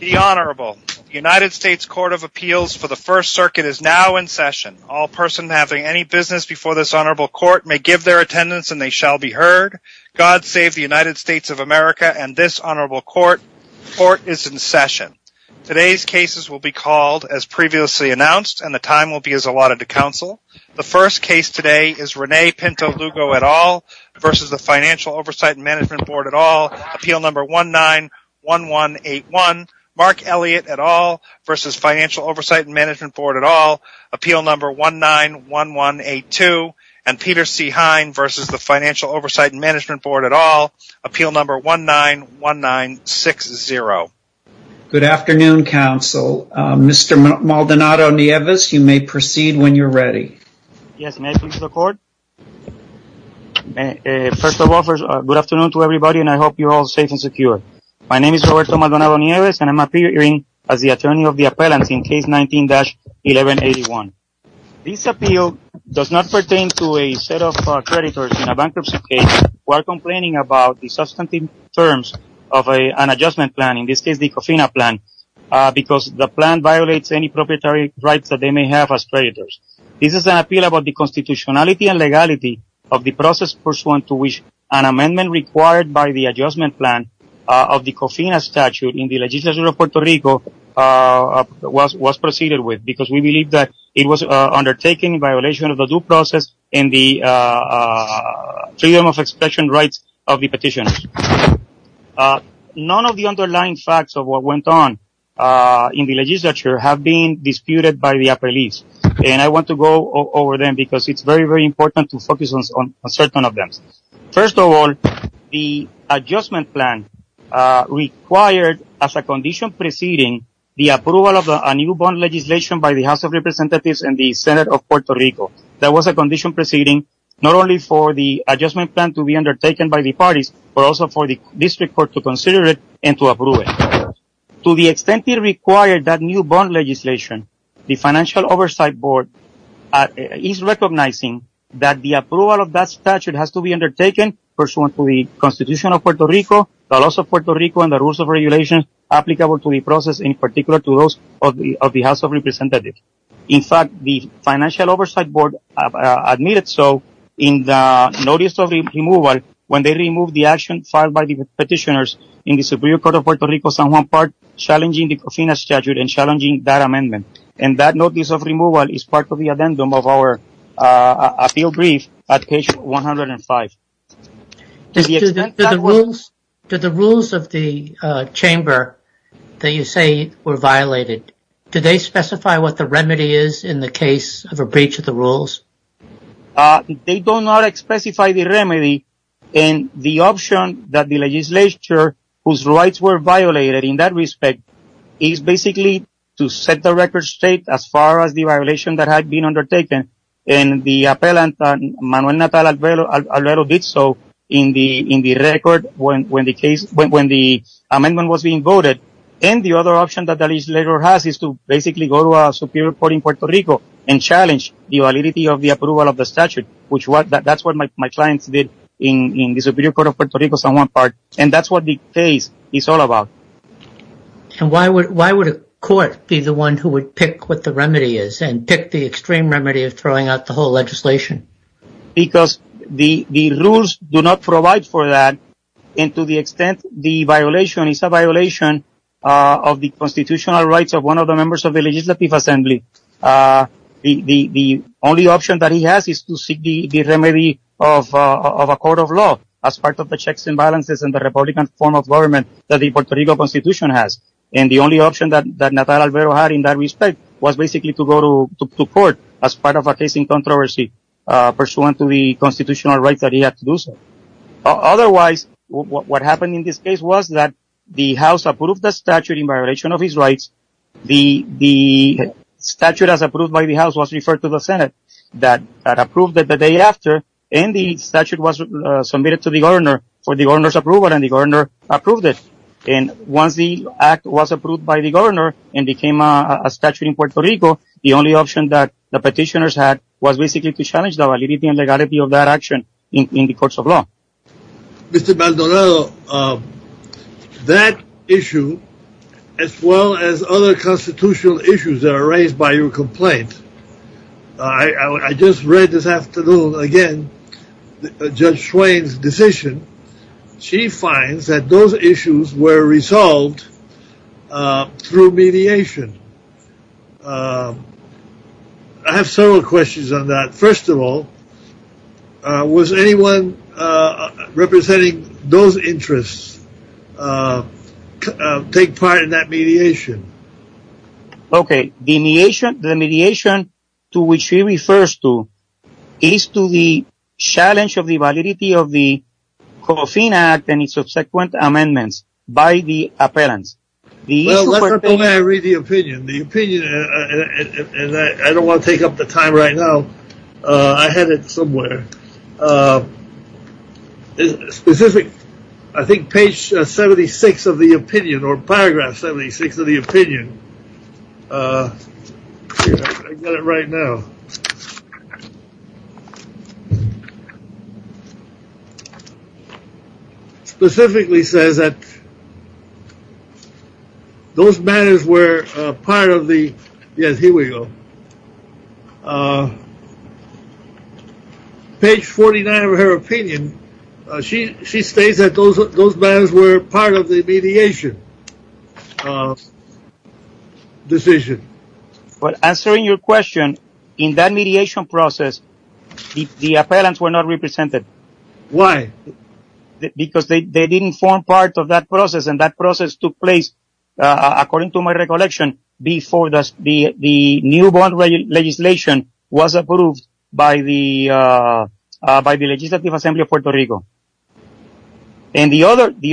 The Honorable United States Court of Appeals for the First Circuit is now in session. All persons having any business before this honorable court may give their attendance and they shall be heard. God save the United States of America and this honorable court. Court is in session. Today's cases will be called as previously announced and the time will be as allotted to counsel. The first case today is Rene Pinto Lugo et al. v. Financial Oversight and Management Board et al. Appeal number 191181. Mark Elliott et al. v. Financial Oversight and Management Board et al. Appeal number 191182. And Peter C. Hine v. Financial Oversight and Management Board et al. Appeal number 191960. Good afternoon, counsel. Mr. Maldonado Nieves, you may proceed when you're ready. Yes, may I please record? First of all, good afternoon to everybody and I hope you're all safe and secure. My name is Roberto Maldonado Nieves and I'm appearing as the attorney of the appellant in case 19-1181. This appeal does not pertain to a set of creditors in a bankruptcy case who are complaining about the substantive terms of an adjustment plan, in this case the COFINA plan, because the plan violates any proprietary rights that they may have as creditors. This is an appeal about the constitutionality and legality of the process pursuant to which an amendment required by the adjustment plan of the COFINA statute in the legislature of Puerto Rico was proceeded with, because we believe that it was undertaken in violation of the due process and the freedom of expression rights of the petitioner. None of the underlying facts of what went on in the legislature have been disputed by the appellees, and I want to go over them because it's very, very important to focus on certain of them. First of all, the adjustment plan required, as a condition proceeding, the approval of a new bond legislation by the House of Representatives and the Senate of Puerto Rico. That was a condition proceeding not only for the adjustment plan to be undertaken by the parties, but also for the district court to consider it and to approve it. To the extent it required that new bond legislation, the Financial Oversight Board is recognizing that the approval of that statute has to be undertaken pursuant to the constitution of Puerto Rico, the laws of Puerto Rico, and the rules of regulation applicable to the process, in particular to those of the House of Representatives. In fact, the Financial Oversight Board admitted so in the notice of removal when they removed the action filed by the petitioners in the Superior Court of Puerto Rico, San Juan Park, challenging the COFINA statute and challenging that amendment. And that notice of removal is part of the addendum of our appeal brief at page 105. Did the rules of the chamber that you say were violated, did they specify what the remedy is in the case of a breach of the rules? They do not specify the remedy. And the option that the legislature, whose rights were violated in that respect, is basically to set the record straight as far as the violation that had been undertaken. And the appellant, Manuel Natal, did so in the record when the amendment was being voted. And the other option that the legislature has is to basically go to a Superior Court in Puerto Rico and challenge the validity of the approval of the statute, which that's what my client did in the Superior Court of Puerto Rico, San Juan Park. And that's what the case is all about. So why would a court be the one who would pick what the remedy is and pick the extreme remedy of throwing out the whole legislation? Because the rules do not provide for that. And to the extent the violation is a violation of the constitutional rights of one of the members of the Legislative Assembly, the only option that he has is to seek the remedy of a court of law as part of the checks and balances in the Republican form of government that the Puerto Rico Constitution has. And the only option that Natal had in that respect was basically to go to court as part of a case in controversy pursuant to the constitutional right that he had to do so. Otherwise, what happened in this case was that the House approved the statute in violation of his rights, the statute as approved by the House was referred to the Senate that approved it the day after, and the statute was submitted to the governor for the governor's approval, and the governor approved it. And once the act was approved by the governor and became a statute in Puerto Rico, the only option that the petitioners had was basically to challenge the validity and legality of that action in the courts of law. Mr. Maldonado, that issue, as well as other constitutional issues that are raised by your complaint, I just read this afternoon again Judge Schwain's decision. She finds that those issues were resolved through mediation. I have several questions on that. First of all, was anyone representing those interests take part in that mediation? Okay, the mediation to which he refers to is to the challenge of the validity of the Coffin Act and its subsequent amendments by the appellant. Well, let me read the opinion. The opinion, and I don't want to take up the time right now. I had it somewhere. It's specific. I think page 76 of the opinion or paragraph 76 of the opinion. I've got it right now. It specifically says that those matters were part of the, yes, here we go. Page 49 of her opinion, she states that those matters were part of the mediation decision. Well, answering your question, in that mediation process, the appellants were not represented. Why? Because they didn't form part of that process, and that process took place, according to my recollection, before the new bond legislation was approved by the legislative assembly of Puerto Rico. And the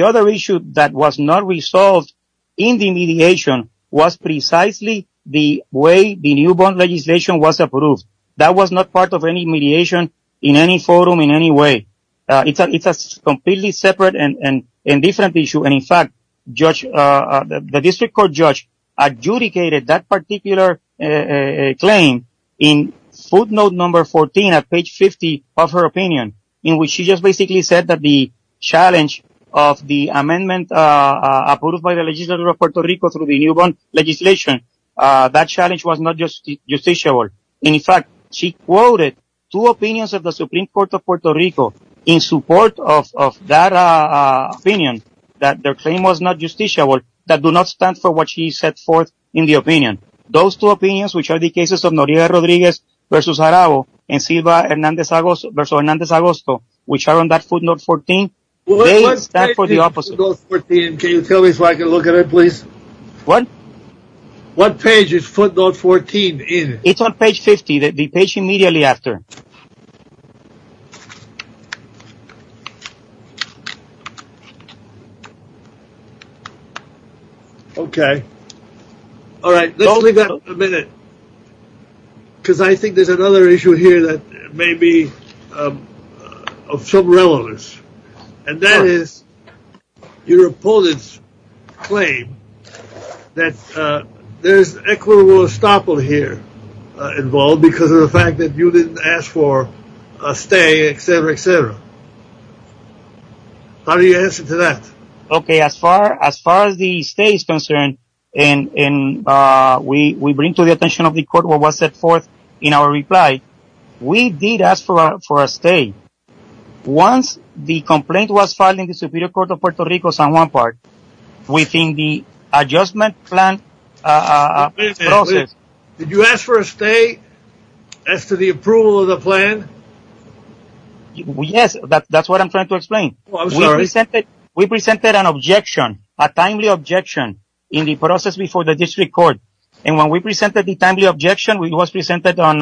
other issue that was not resolved in the mediation was precisely the way the new bond legislation was approved. That was not part of any mediation in any forum in any way. It's a completely separate and different issue. And, in fact, the district court judge adjudicated that particular claim in footnote number 14 at page 50 of her opinion, in which she just basically said that the challenge of the amendment approved by the legislature of Puerto Rico through the new bond legislation, that challenge was not justifiable. In fact, she quoted two opinions of the Supreme Court of Puerto Rico in support of that opinion, that their claim was not justifiable, that do not stand for what she set forth in the opinion. Those two opinions, which are the cases of Noriega Rodriguez versus Jarabo and Silva versus Hernandez-Agosto, which are on that footnote 14, they stand for the opposite. What page is footnote 14? Can you tell me so I can look at it, please? What? What page is footnote 14 in? It's on page 50, the page immediately after. Okay. All right. Hold it up a minute, because I think there's another issue here that may be of some relevance, and that is your opponent's claim that there's equitable estoppel here involved because of the fact that you didn't ask for a stay, et cetera, et cetera. How do you answer to that? Okay. As far as the stay is concerned, and we bring to the attention of the court what was set forth in our reply, we did ask for a stay. Once the complaint was filed in the Superior Court of Puerto Rico, San Juan Park, within the adjustment plan process. Did you ask for a stay as to the approval of the plan? Yes. That's what I'm trying to explain. We presented an objection, a timely objection in the process before the district court, and when we presented the timely objection, it was presented on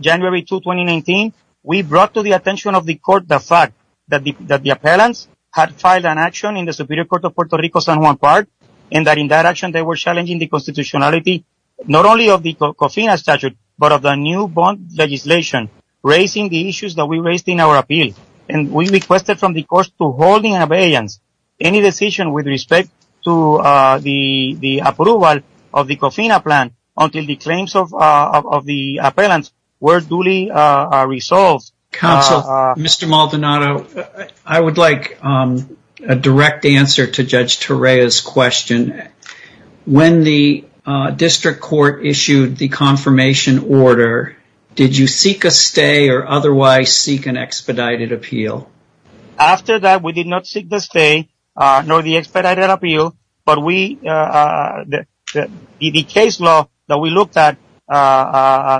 January 2, 2019. We brought to the attention of the court the fact that the appellants had filed an action in the Superior Court of Puerto Rico, San Juan Park, and that in that action they were challenging the constitutionality not only of the COFINA statute, but of the new bond legislation, raising the issues that we raised in our appeal. And we requested from the courts to hold in abeyance any decision with respect to the approval of the COFINA plan until the claims of the appellants were duly resolved. Counsel, Mr. Maldonado, I would like a direct answer to Judge Torreya's question. When the district court issued the confirmation order, did you seek a stay or otherwise seek an expedited appeal? After that, we did not seek the stay nor the expedited appeal, but the case law that we looked at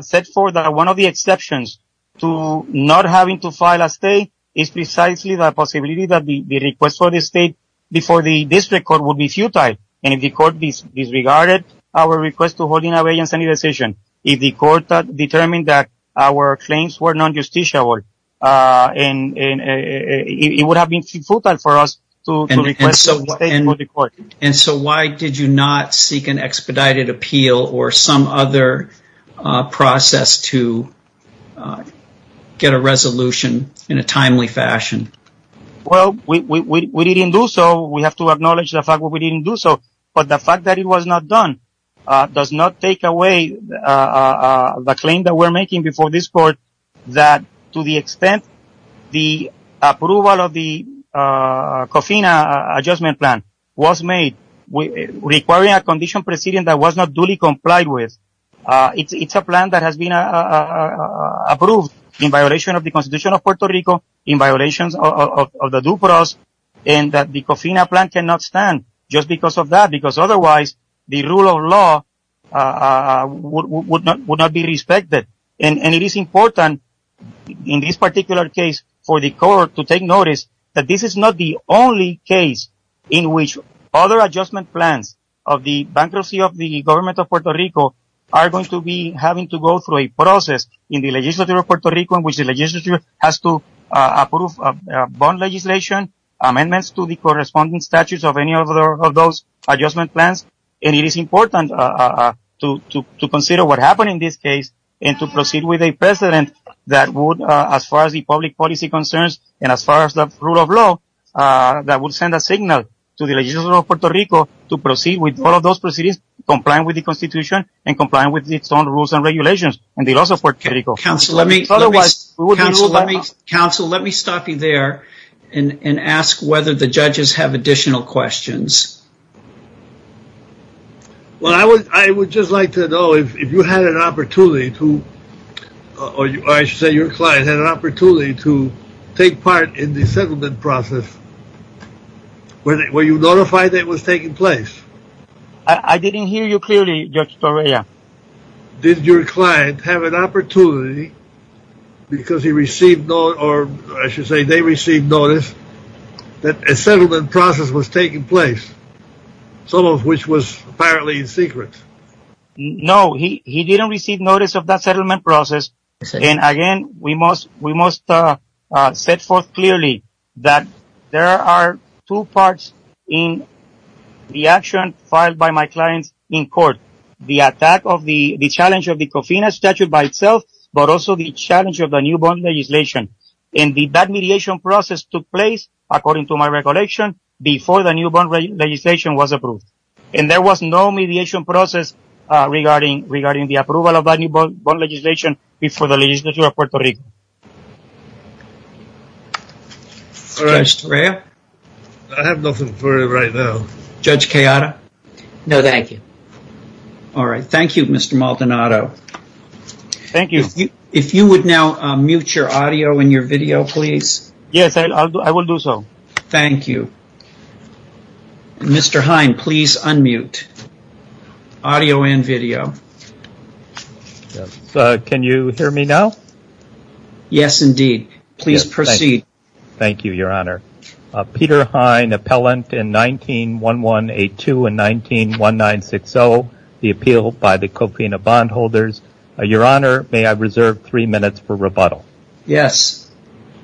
set forth that one of the exceptions to not having to file a stay is precisely the possibility that the request for the stay before the district court would be futile. And if the court disregarded our request to hold in abeyance any decision, if the court determined that our claims were non-justiciable, it would have been futile for us to request a stay before the court. And so why did you not seek an expedited appeal or some other process to get a resolution in a timely fashion? Well, we didn't do so. We have to acknowledge the fact that we didn't do so. But the fact that it was not done does not take away the claim that we're making before this court that to the extent the approval of the COFINA adjustment plan was made requiring a condition proceeding that was not duly complied with. It's a plan that has been approved in violation of the Constitution of Puerto Rico, in violation of the DUPROS, and that the COFINA plan cannot stand just because of that, because otherwise the rule of law would not be respected. And it is important in this particular case for the court to take notice that this is not the only case in which other adjustment plans of the bankruptcy of the government of Puerto Rico are going to be having to go through a process in the legislature of Puerto Rico in which the legislature has to approve bond legislation, amendments to the corresponding statutes of any of those adjustment plans. And it is important to consider what happened in this case and to proceed with a precedent that would, as far as the public policy concerns and as far as the rule of law, that would send a signal to the legislature of Puerto Rico to proceed with all of those procedures, comply with the Constitution, and comply with its own rules and regulations, and the law support critical. Counsel, let me stop you there and ask whether the judges have additional questions. Well, I would just like to know if you had an opportunity to, or I should say your client, had an opportunity to take part in the settlement process. Were you notified that it was taking place? I didn't hear you clearly, Judge Torreya. Did your client have an opportunity, because he received, or I should say they received notice, that a settlement process was taking place, some of which was apparently in secret? No, he didn't receive notice of that settlement process. And again, we must set forth clearly that there are two parts in the action filed by my client in court. The attack of the challenge of the Covina statute by itself, but also the challenge of the new bond legislation. And that mediation process took place, according to my recollection, before the new bond legislation was approved. And there was no mediation process regarding the approval of that new bond legislation before the legislature of Puerto Rico. All right, Torreya. I have nothing for you right now. Judge Kayada? No, thank you. All right. Thank you, Mr. Maldonado. Thank you. If you would now mute your audio and your video, please. Yes, I will do so. Thank you. Mr. Hine, please unmute. Audio and video. Can you hear me now? Yes, indeed. Please proceed. Thank you, Your Honor. Peter Hine, appellant in 19-1182 and 19-1960, the appeal by the Covina bondholders. Your Honor, may I reserve three minutes for rebuttal? Yes.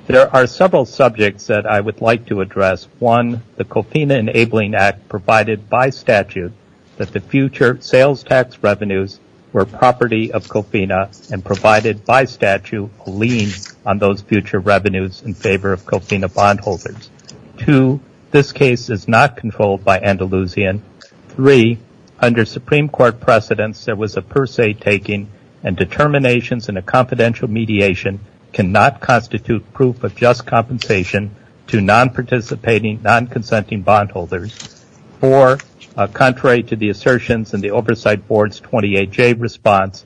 There are several subjects that I would like to address. One, the Covina Enabling Act provided by statute that the future sales tax revenues were property of Covina and provided by statute a lien on those future revenues in favor of Covina bondholders. Two, this case is not controlled by Andalusian. Three, under Supreme Court precedents, there was a per se taking and determinations in a confidential mediation cannot constitute proof of just compensation to non-participating, non-consenting bondholders. Four, contrary to the assertions in the Oversight Board's 28-J response,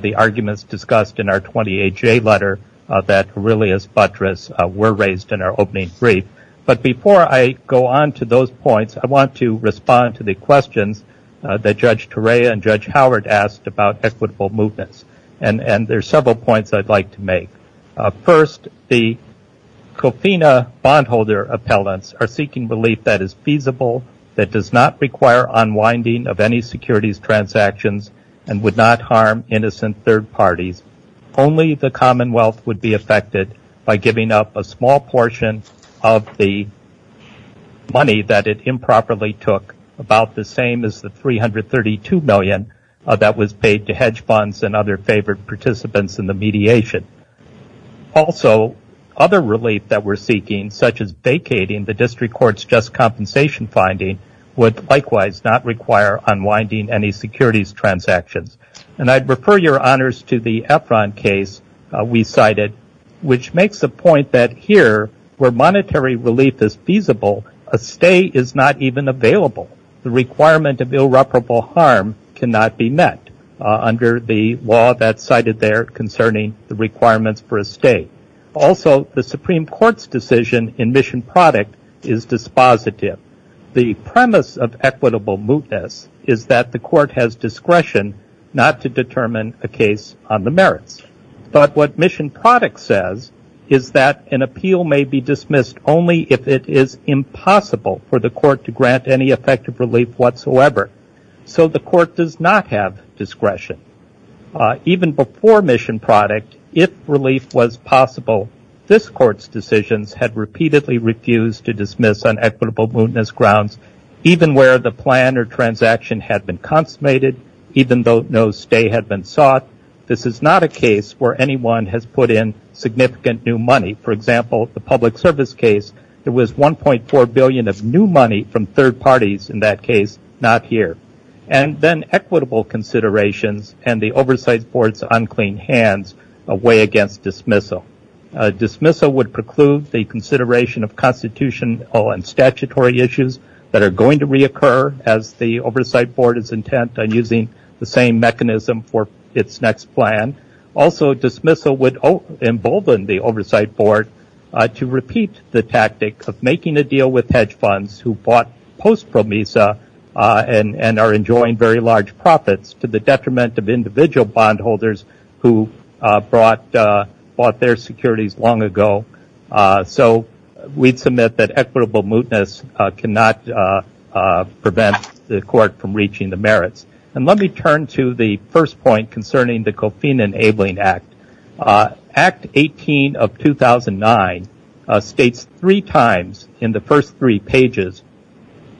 the arguments discussed in our 28-J letter that Aurelius Buttress were raised in our opening brief. But before I go on to those points, I want to respond to the questions that Judge Torea and Judge Howard asked about equitable movements. And there are several points I'd like to make. First, the Covina bondholder appellants are seeking belief that is feasible, that does not require unwinding of any securities transactions, and would not harm innocent third parties. Only the Commonwealth would be affected by giving up a small portion of the money that it improperly took, about the same as the $332 million that was paid to hedge funds and other favored participants in the mediation. Also, other relief that we're seeking, such as vacating the district court's just compensation finding, would likewise not require unwinding any securities transactions. And I'd refer your honors to the Efron case we cited, which makes a point that here, where monetary relief is feasible, a stay is not even available. The requirement of irreparable harm cannot be met under the law that's cited there concerning the requirements for a stay. Also, the Supreme Court's decision in mission product is dispositive. The premise of equitable movements is that the court has discretion not to determine the case on the merits. But what mission product says is that an appeal may be dismissed only if it is impossible for the court to grant any effective relief whatsoever. So the court does not have discretion. Even before mission product, if relief was possible, this court's decisions had repeatedly refused to dismiss on equitable movements grounds, even where the plan or transaction had been consummated, even though no stay had been sought. This is not a case where anyone has put in significant new money. For example, the public service case, there was $1.4 billion of new money from third parties in that case, not here. And then equitable considerations and the Oversight Board's unclean hands away against dismissal. Dismissal would preclude the consideration of constitutional and statutory issues that are going to reoccur as the Oversight Board is intent on using the same mechanism for its next plan. Also, dismissal would embolden the Oversight Board to repeat the tactic of making a deal with hedge funds who bought posts from MISA and are enjoying very large profits to the detriment of individual bondholders who bought their securities long ago. So we submit that equitable movements cannot prevent the court from reaching the merits. And let me turn to the first point concerning the COFINA Enabling Act. Act 18 of 2009 states three times in the first three pages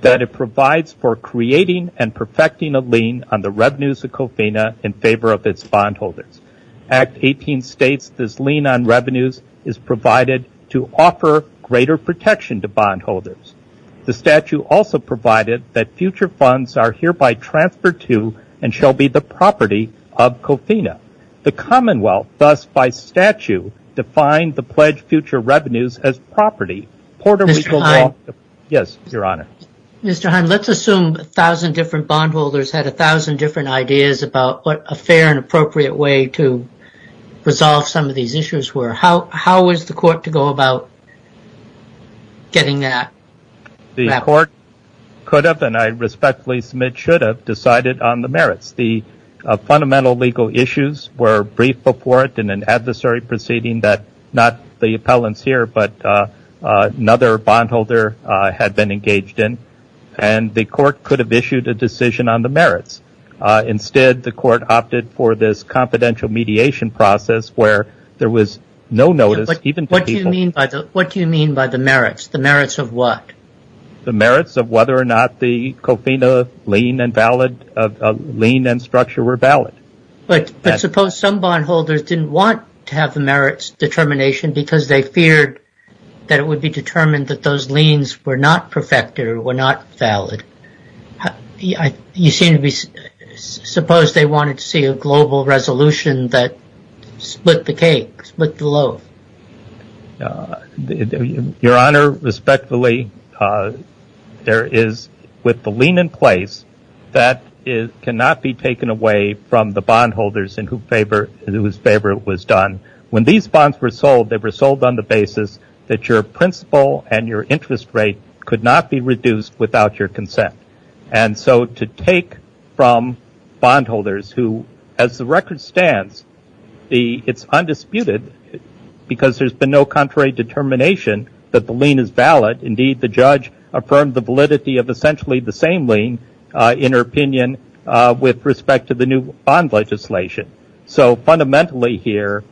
that it provides for creating and perfecting a lien on the revenues of COFINA in favor of its bondholders. Act 18 states this lien on revenues is provided to offer greater protection to bondholders. The statute also provided that future funds are hereby transferred to and shall be the property of COFINA. The Commonwealth, thus by statute, defined the pledged future revenues as property. Mr. Heine, let's assume a thousand different bondholders had a thousand different ideas about what a fair and appropriate way to resolve some of these issues were. How was the court to go about getting that? The court could have, and I respectfully submit should have, decided on the merits. The fundamental legal issues were briefed before it in an adversary proceeding that not the appellants here but another bondholder had been engaged in. And the court could have issued a decision on the merits. Instead, the court opted for this confidential mediation process where there was no notice. What do you mean by the merits? The merits of what? The merits of whether or not the COFINA lien and structure were valid. But suppose some bondholders didn't want to have the merits determination because they feared that it would be determined that those liens were not perfect or were not valid. Suppose they wanted to see a global resolution that split the cake, split the loaf. Your Honor, respectfully, there is, with the lien in place, that cannot be taken away from the bondholders in whose favor it was done. When these bonds were sold, they were sold on the basis that your principal and your interest rate could not be reduced without your consent. And so to take from bondholders who, as the record stands, it's undisputed because there's been no contrary determination that the lien is valid. Indeed, the judge affirmed the validity of essentially the same lien in her opinion with respect to the new bond legislation. So fundamentally here,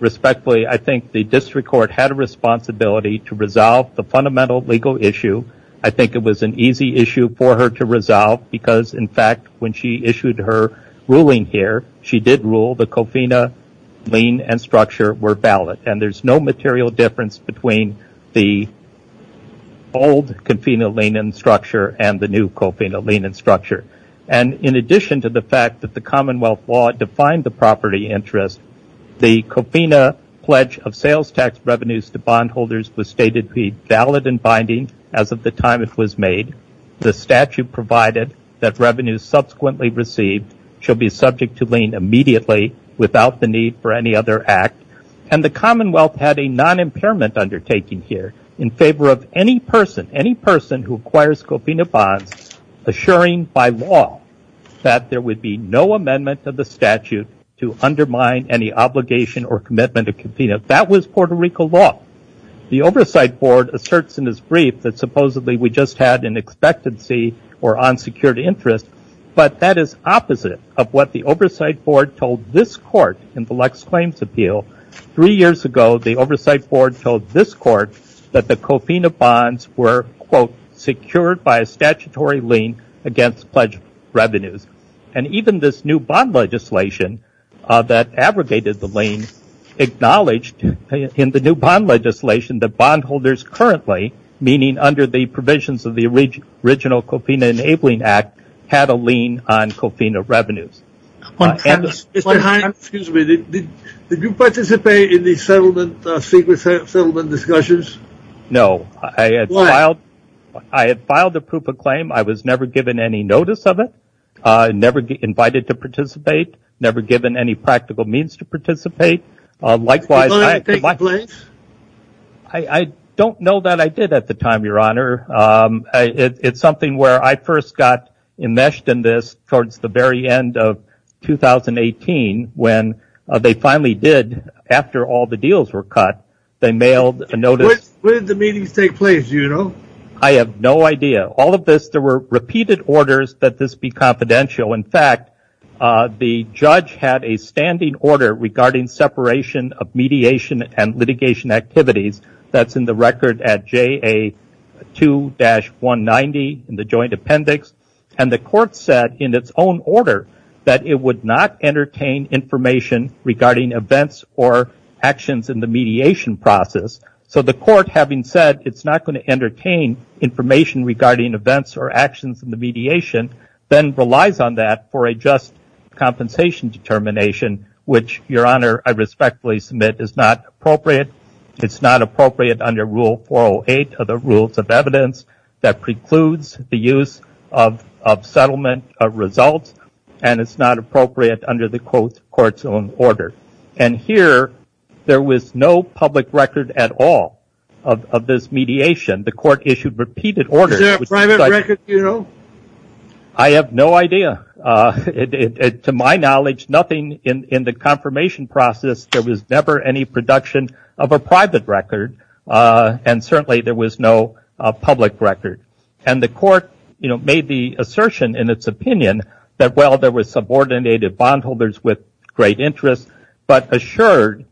respectfully, I think the district court had a responsibility to resolve the fundamental legal issue. I think it was an easy issue for her to resolve because, in fact, when she issued her ruling here, she did rule the COFINA lien and structure were valid. And there's no material difference between the old COFINA lien and structure and the new COFINA lien and structure. And in addition to the fact that the Commonwealth law defined the property interest, the COFINA pledge of sales tax revenues to bondholders was stated to be valid and binding as of the time it was made. The statute provided that revenues subsequently received shall be subject to lien immediately without the need for any other act. And the Commonwealth had a non-impairment undertaking here in favor of any person, any person who acquires COFINA bonds, assuring by law that there would be no amendment to the statute to undermine any obligation or commitment to COFINA. That was Puerto Rico law. The Oversight Board asserts in its brief that supposedly we just had an expectancy or unsecured interest, but that is opposite of what the Oversight Board told this court in the Lex Claims Appeal. Three years ago, the Oversight Board told this court that the COFINA bonds were, quote, secured by a statutory lien against pledge revenues. And even this new bond legislation that abrogated the lien acknowledged in the new bond legislation that bondholders currently, meaning under the provisions of the original COFINA Enabling Act, had a lien on COFINA revenues. Mr. Hines, did you participate in the secret settlement discussions? No. Why? Well, I had filed a proof of claim. I was never given any notice of it, never invited to participate, never given any practical means to participate. Likewise, I don't know that I did at the time, Your Honor. It's something where I first got enmeshed in this towards the very end of 2018 when they finally did, after all the deals were cut, they mailed a notice. When did the meetings take place, do you know? I have no idea. All of this, there were repeated orders that this be confidential. In fact, the judge had a standing order regarding separation of mediation and litigation activities that's in the record at JA2-190 in the joint appendix. And the court said in its own order that it would not entertain information regarding events or actions in the mediation process. So the court, having said it's not going to entertain information regarding events or actions in the mediation, then relies on that for a just compensation determination, which, Your Honor, I respectfully submit is not appropriate. It's not appropriate under Rule 408 of the Rules of Evidence that precludes the use of settlement of results, and it's not appropriate under the court's own order. And here, there was no public record at all of this mediation. The court issued repeated orders. Is there a private record, do you know? I have no idea. To my knowledge, nothing in the confirmation process, there was never any production of a private record, and certainly there was no public record. And the court made the assertion in its opinion that, well, there were subordinated bondholders with great interest, but Assured,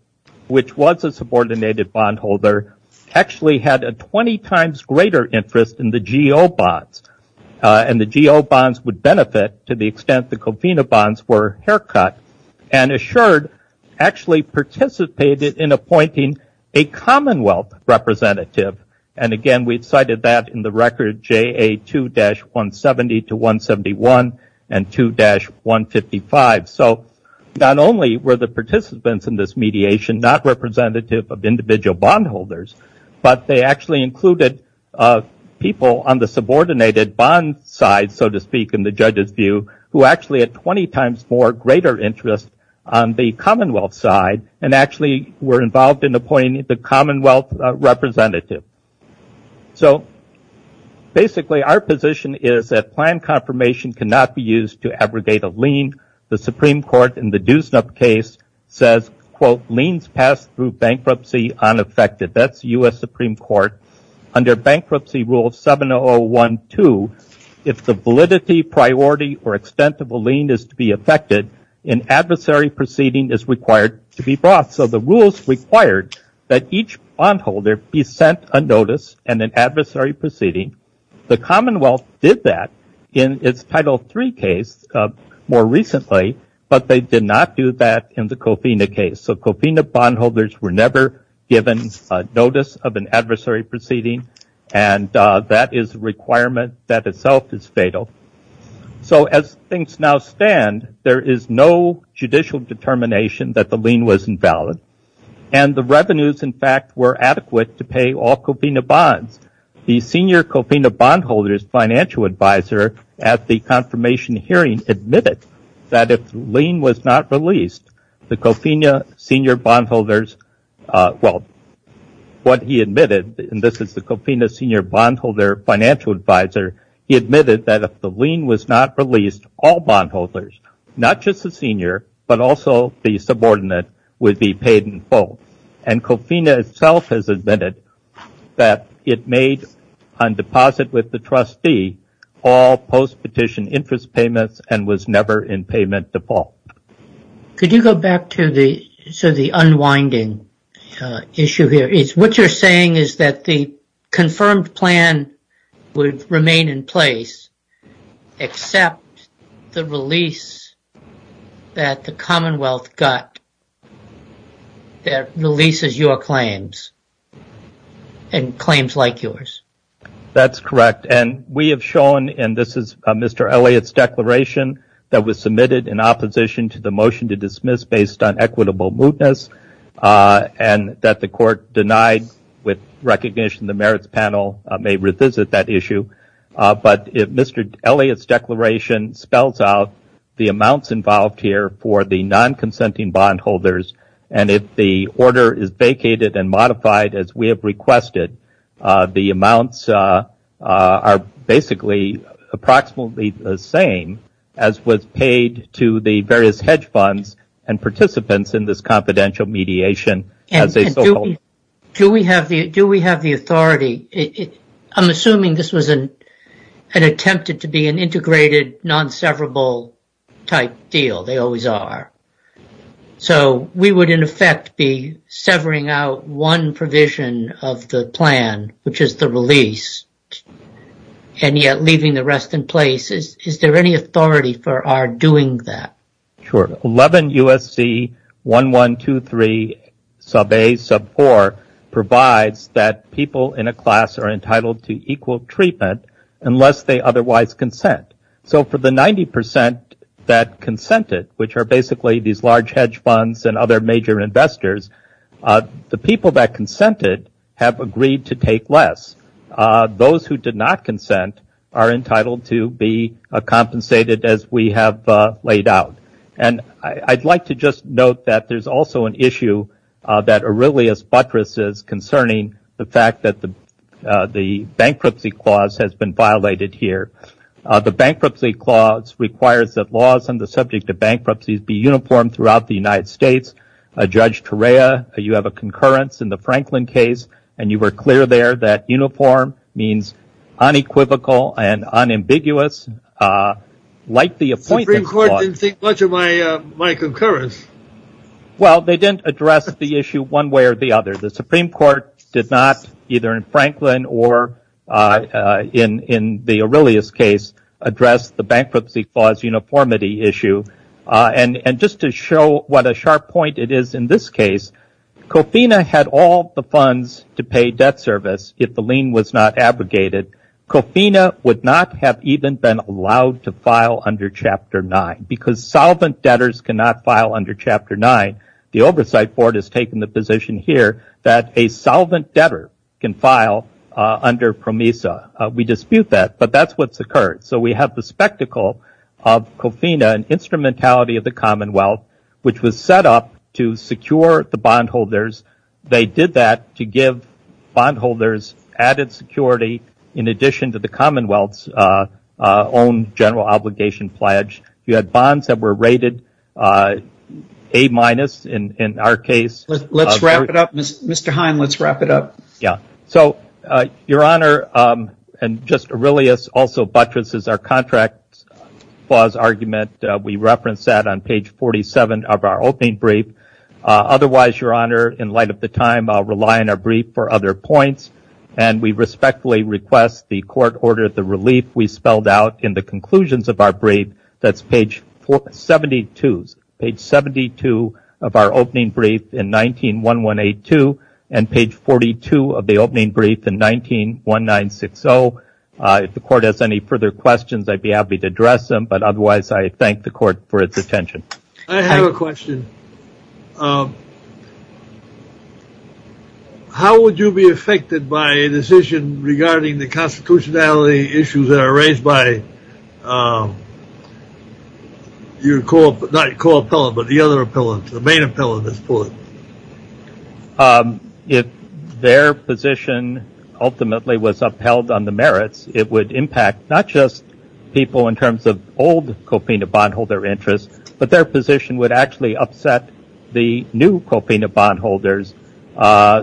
which was a subordinated bondholder, actually had a 20 times greater interest in the GO bonds. And the GO bonds would benefit to the extent the Covina bonds were haircut. And Assured actually participated in appointing a Commonwealth representative. And, again, we've cited that in the record, JA2-170 to 171 and 2-155. So not only were the participants in this mediation not representative of individual bondholders, but they actually included people on the subordinated bond side, so to speak, in the judge's view, who actually had 20 times more greater interest on the Commonwealth side and actually were involved in appointing the Commonwealth representative. So, basically, our position is that plan confirmation cannot be used to abrogate a lien. The Supreme Court in the Duesnup case says, quote, liens passed through bankruptcy unaffected. That's the U.S. Supreme Court. Under Bankruptcy Rule 7012, if the validity, priority, or extent of a lien is to be affected, an adversary proceeding is required to be brought. So the rules required that each bondholder be sent a notice and an adversary proceeding. The Commonwealth did that in its Title III case more recently, but they did not do that in the Covina case. So Covina bondholders were never given notice of an adversary proceeding, and that is a requirement that itself is fatal. So as things now stand, there is no judicial determination that the lien was invalid, and the revenues, in fact, were adequate to pay all Covina bonds. The senior Covina bondholders financial advisor at the confirmation hearing admitted that if the lien was not released, the Covina senior bondholders, well, what he admitted, and this is the Covina senior bondholder financial advisor, he admitted that if the lien was not released, all bondholders, not just the senior, but also the subordinate, would be paid in full. And Covina itself has admitted that it made, on deposit with the trustee, all post-petition interest payments and was never in payment default. Could you go back to the unwinding issue here? It's what you're saying is that the confirmed plan would remain in place except the release that the Commonwealth got that releases your claims and claims like yours. That's correct, and we have shown, and this is Mr. Elliott's declaration that was submitted in opposition to the motion to dismiss based on equitable mootness, and that the court denied with recognition the merits panel may revisit that issue. But Mr. Elliott's declaration spells out the amounts involved here for the non-consenting bondholders, and if the order is vacated and modified as we have requested, the amounts are basically approximately the same as was paid to the various hedge funds and participants in this confidential mediation. Do we have the authority? I'm assuming this was an attempted to be an integrated, non-severable type deal. They always are. So we would, in effect, be severing out one provision of the plan, which is the release, and yet leaving the rest in place. Is there any authority for our doing that? Sure. 11 U.S.C. 1123 sub A sub 4 provides that people in a class are entitled to equal treatment unless they otherwise consent. So for the 90% that consented, which are basically these large hedge funds and other major investors, the people that consented have agreed to take less. Those who did not consent are entitled to be compensated as we have laid out. And I'd like to just note that there's also an issue that Aurelius Buttress is concerning the fact that the bankruptcy clause has been violated here. The bankruptcy clause requires that laws on the subject of bankruptcies be uniform throughout the United States. Judge Torea, you have a concurrence in the Franklin case, and you were clear there that uniform means unequivocal and unambiguous, like the appointed clause. The Supreme Court didn't see much of my concurrence. Well, they didn't address the issue one way or the other. The Supreme Court did not, either in Franklin or in the Aurelius case, address the bankruptcy clause uniformity issue. And just to show what a sharp point it is in this case, COFINA had all the funds to pay debt service if the lien was not abrogated. COFINA would not have even been allowed to file under Chapter 9 because solvent debtors cannot file under Chapter 9. The Oversight Board has taken the position here that a solvent debtor can file under PROMESA. We dispute that, but that's what's occurred. So we have the spectacle of COFINA, an instrumentality of the Commonwealth, which was set up to secure the bondholders. They did that to give bondholders added security in addition to the Commonwealth's own general obligation pledge. You had bonds that were rated A- in our case. Let's wrap it up. Mr. Hine, let's wrap it up. Your Honor, and just Aurelius also buttresses our contract clause argument. We reference that on page 47 of our opening brief. Otherwise, Your Honor, in light of the time, I'll rely on our brief for other points. And we respectfully request the court order the relief we spelled out in the conclusions of our brief. That's page 72 of our opening brief in 19-1182 and page 42 of the opening brief in 19-1960. If the court has any further questions, I'd be happy to address them. But otherwise, I thank the court for its attention. I have a question. Mr. Hine, how would you be affected by a decision regarding the constitutionality issues that are raised by your co-appellant, not your co-appellant, but the other appellant, the main appellant of this court? If their position ultimately was upheld on the merits, it would impact not just people in terms of old cofina bondholder interests, but their position would actually upset the new cofina bondholders.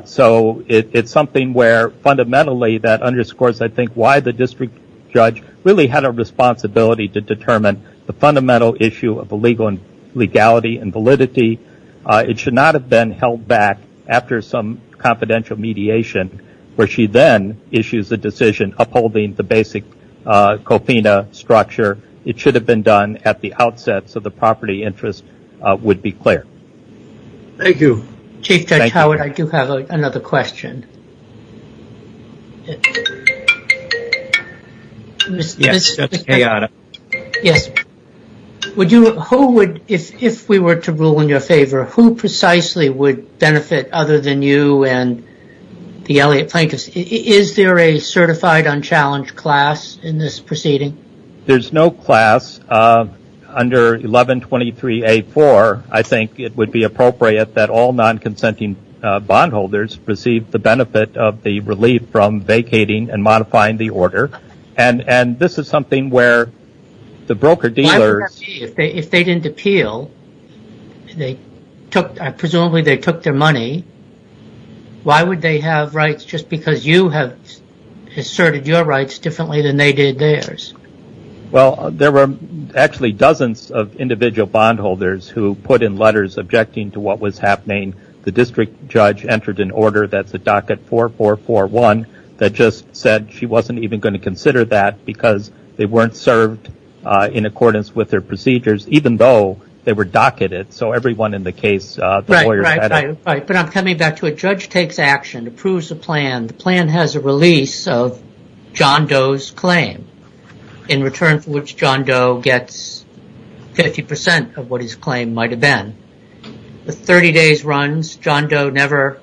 So it's something where fundamentally that underscores, I think, why the district judge really had a responsibility to determine the fundamental issue of illegality and validity. It should not have been held back after some confidential mediation where she then issues a decision upholding the basic cofina structure. It should have been done at the outset so the property interest would be clear. Thank you. Chief Judge Howard, I do have another question. Yes. Who would, if we were to rule in your favor, who precisely would benefit other than you and the Elliott plaintiffs? Is there a certified unchallenged class in this proceeding? There's no class under 1123A.4. I think it would be appropriate that all non-consenting bondholders receive the benefit of the relief from vacating and modifying the order. And this is something where the broker-dealers… Presumably they took their money. Why would they have rights just because you have asserted your rights differently than they did theirs? Well, there were actually dozens of individual bondholders who put in letters objecting to what was happening. The district judge entered an order that the docket 4441 that just said she wasn't even going to consider that because they weren't served in accordance with their procedures, even though they were docketed. So everyone in the case… Right, right, right. But I'm coming back to it. Judge takes action, approves the plan. The plan has a release of John Doe's claim, in return for which John Doe gets 50% of what his claim might have been. The 30 days runs. John Doe never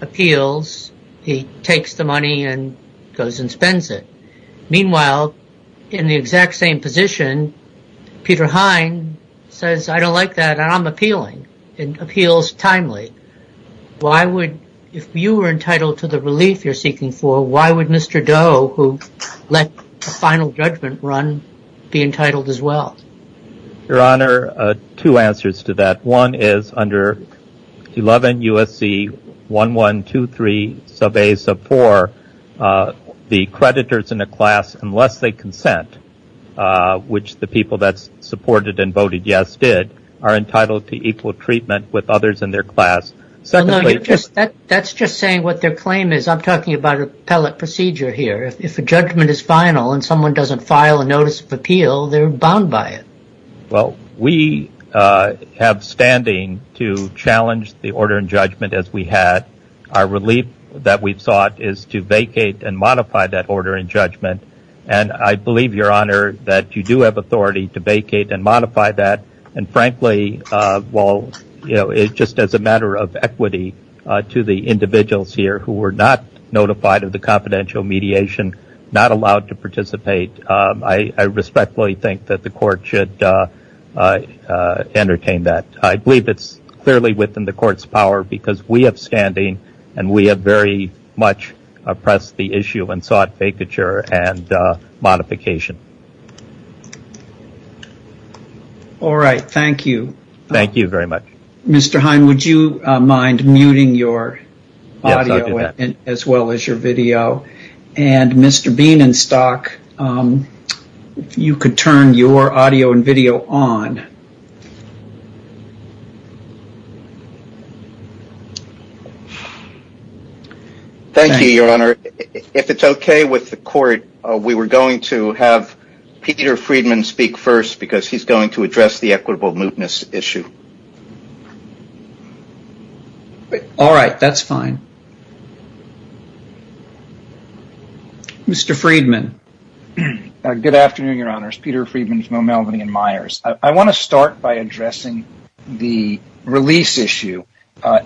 appeals. He takes the money and goes and spends it. Meanwhile, in the exact same position, Peter Hein says, I don't like that, and I'm appealing. It appeals timely. Why would… If you were entitled to the relief you're seeking for, why would Mr. Doe, who let the final judgment run, be entitled as well? Your Honor, two answers to that. One is, under 11 U.S.C. 1123 sub A sub 4, the creditors in a class, unless they consent, which the people that supported and voted yes did, are entitled to equal treatment with others in their class. That's just saying what their claim is. I'm talking about appellate procedure here. If a judgment is final and someone doesn't file a notice of appeal, they're bound by it. Well, we have standing to challenge the order and judgment as we had. Our relief that we sought is to vacate and modify that order and judgment. And I believe, Your Honor, that you do have authority to vacate and modify that. And frankly, well, you know, it's just as a matter of equity to the individuals here who were not notified of the confidential mediation, not allowed to participate. I respectfully think that the court should entertain that. I believe it's clearly within the court's power because we have standing and we have very much oppressed the issue and sought vacature and modification. All right. Thank you. Thank you very much. Mr. Hine, would you mind muting your audio as well as your video? And Mr. Bienenstock, if you could turn your audio and video on. Thank you, Your Honor. If it's okay with the court, we were going to have Peter Friedman speak first because he's going to address the equitable mootness issue. All right. That's fine. Mr. Friedman. Good afternoon, Your Honor. It's Peter Friedman from Melbourne & Myers. I want to start by addressing the release issue.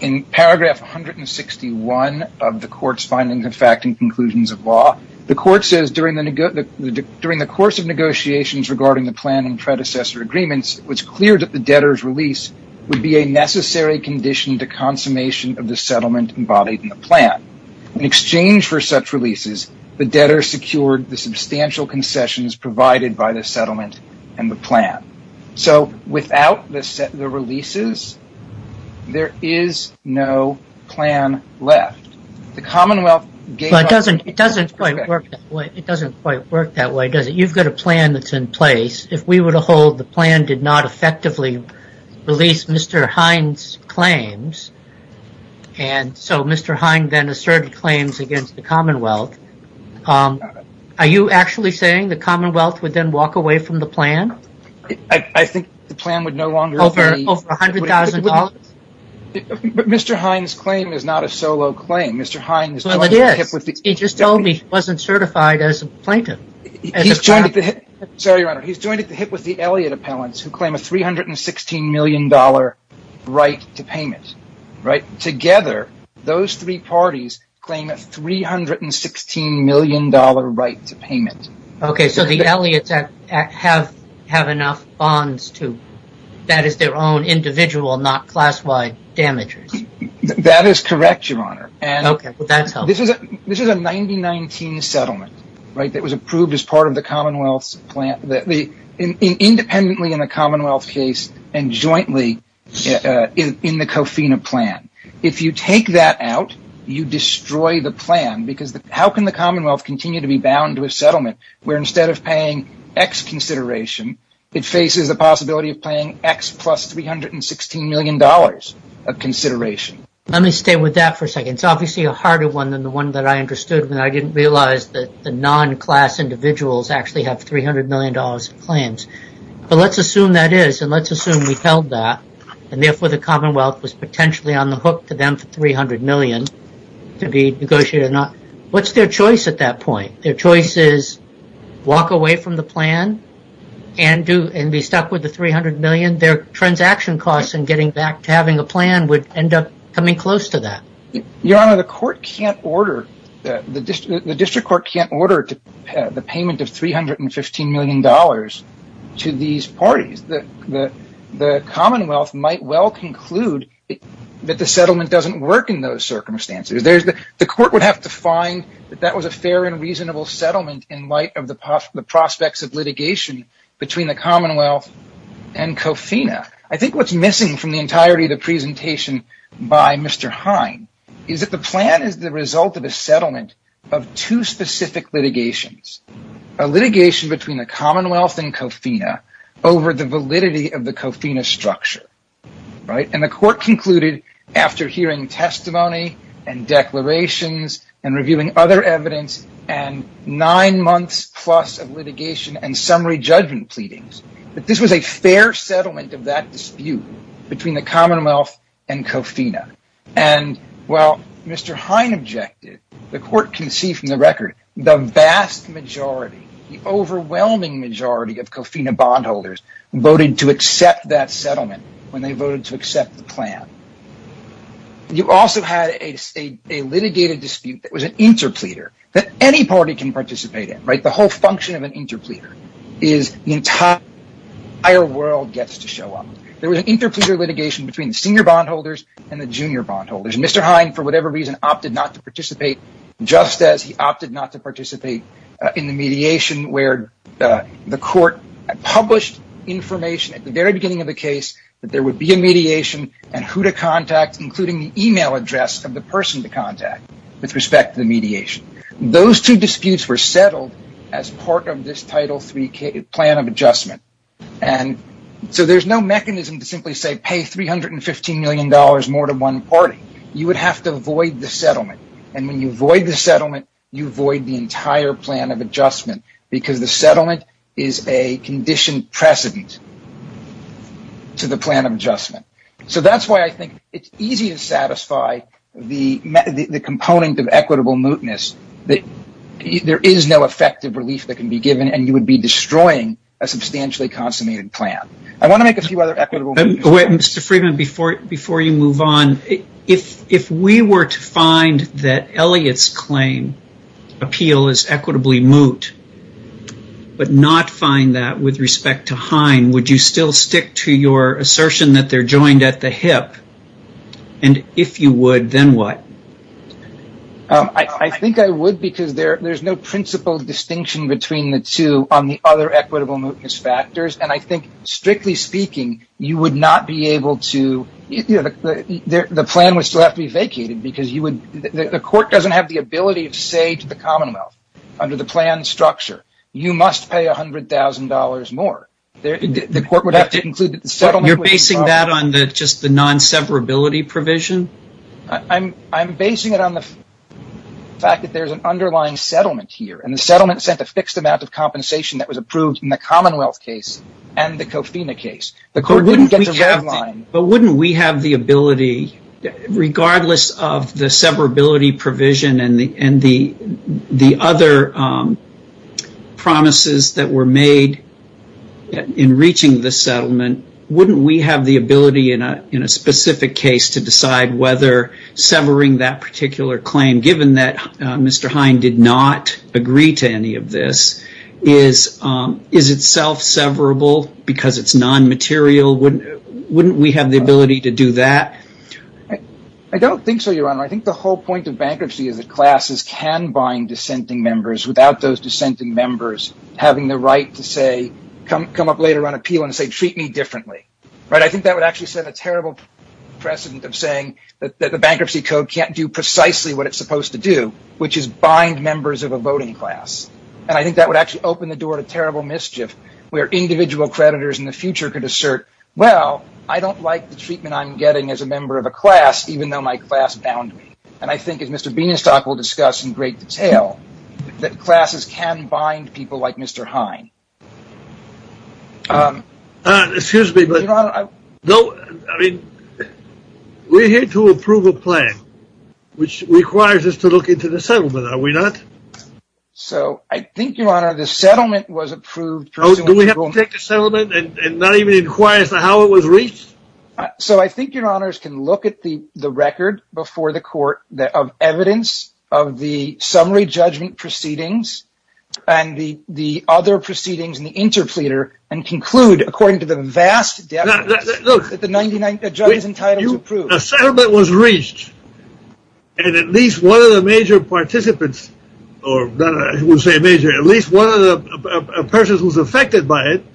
In paragraph 161 of the court's findings of fact and conclusions of law, the court says, During the course of negotiations regarding the plan and predecessor agreements, it was clear that the debtor's release would be a necessary condition to consummation of the settlement embodied in the plan. In exchange for such releases, the debtor secured the substantial concessions provided by the settlement and the plan. So without the releases, there is no plan left. It doesn't quite work that way, does it? You've got a plan that's in place. If we were to hold the plan did not effectively release Mr. Hines' claims, and so Mr. Hines then asserted claims against the Commonwealth, are you actually saying the Commonwealth would then walk away from the plan? I think the plan would no longer be... Over $100,000? But Mr. Hines' claim is not a solo claim. He just told me he wasn't certified as a plaintiff. He's joined at the hip with the Elliott appellants who claim a $316 million right to payments. Together, those three parties claim a $316 million right to payments. Okay, so the Elliotts have enough bonds, too. That is their own individual, not class-wide damages. That is correct, Your Honor. Okay, well that helps. This is a 1919 settlement, right, that was approved as part of the Commonwealth's plan. Independently in a Commonwealth case and jointly in the COFINA plan. If you take that out, you destroy the plan, because how can the Commonwealth continue to be bound to a settlement where instead of paying X consideration, it faces the possibility of paying X plus $316 million of consideration? Let me stay with that for a second. It's obviously a harder one than the one that I understood when I didn't realize that the non-class individuals actually have $300 million of plans. Let's assume that is, and let's assume we've held that, and therefore the Commonwealth was potentially on the hook to them for $300 million to be negotiated or not. What's their choice at that point? Their choice is walk away from the plan and be stuck with the $300 million? Their transaction costs in getting back to having a plan would end up coming close to that. Your Honor, the court can't order, the district court can't order the payment of $315 million to these parties. The Commonwealth might well conclude that the settlement doesn't work in those circumstances. The court would have to find that that was a fair and reasonable settlement in light of the prospects of litigation between the Commonwealth and COFINA. I think what's missing from the entirety of the presentation by Mr. Hine is that the plan is the result of a settlement of two specific litigations. A litigation between the Commonwealth and COFINA over the validity of the COFINA structure. The court concluded after hearing testimony and declarations and reviewing other evidence and nine months plus of litigation and summary judgment pleadings, that this was a fair settlement of that dispute between the Commonwealth and COFINA. Mr. Hine objected. The court can see from the record the vast majority, the overwhelming majority of COFINA bondholders voted to accept that settlement when they voted to accept the plan. You also had a litigated dispute that was an interpleader that any party can participate in. The whole function of an interpleader is the entire world gets to show up. There was an interpleader litigation between the senior bondholders and the junior bondholders. Mr. Hine, for whatever reason, opted not to participate just as he opted not to participate in the mediation where the court published information at the very beginning of the case that there would be a mediation and who to contact including the email address of the person to contact with respect to the mediation. Those two disputes were settled as part of this Title III plan of adjustment. There's no mechanism to simply say pay $315 million more to one party. You would have to avoid the settlement. When you avoid the settlement, you avoid the entire plan of adjustment because the settlement is a conditioned precedent to the plan of adjustment. That's why I think it's easy to satisfy the component of equitable mootness. There is no effective relief that can be given and you would be destroying a substantially consummated plan. I want to make a few other equitable... Mr. Freeman, before you move on, if we were to find that Elliott's claim appeal is equitably moot but not find that with respect to Hine, would you still stick to your assertion that they're joined at the hip? If you would, then what? I think I would because there's no principle distinction between the two on the other equitable mootness factors. I think, strictly speaking, you would not be able to... The plan would still have to be vacated because the court doesn't have the ability to say to the Commonwealth under the plan structure, you must pay $100,000 more. You're basing that on just the non-severability provision? I'm basing it on the fact that there's an underlying settlement here and the settlement set a fixed amount of compensation that was approved in the Commonwealth case and the COFINA case. But wouldn't we have the ability, regardless of the severability provision and the other promises that were made in reaching the settlement, wouldn't we have the ability in a specific case to decide whether severing that particular claim, given that Mr. Hine did not agree to any of this, is itself severable because it's non-material? Wouldn't we have the ability to do that? I don't think so, Your Honor. I think the whole point of bankruptcy is that classes can bind dissenting members without those dissenting members having the right to come up later on appeal and say, treat me differently. I think that would actually set a terrible precedent of saying that the Bankruptcy Code can't do precisely what it's supposed to do, which is bind members of a voting class. And I think that would actually open the door to terrible mischief where individual creditors in the future could assert, well, I don't like the treatment I'm getting as a member of a class, even though my class bound me. And I think, as Mr. Bienestock will discuss in great detail, that classes can bind people like Mr. Hine. Excuse me, but we're here to approve a plan, which requires us to look into the settlement, are we not? So I think, Your Honor, the settlement was approved. Do we have to check the settlement and not even inquire as to how it was reached? So I think, Your Honor, we can look at the record before the court of evidence of the summary judgment proceedings and the other proceedings in the interpleater and conclude, according to the vast depth, that the judgment was approved. The settlement was reached, and at least one of the major participants, or I won't say major, at least one of the persons who was affected by it,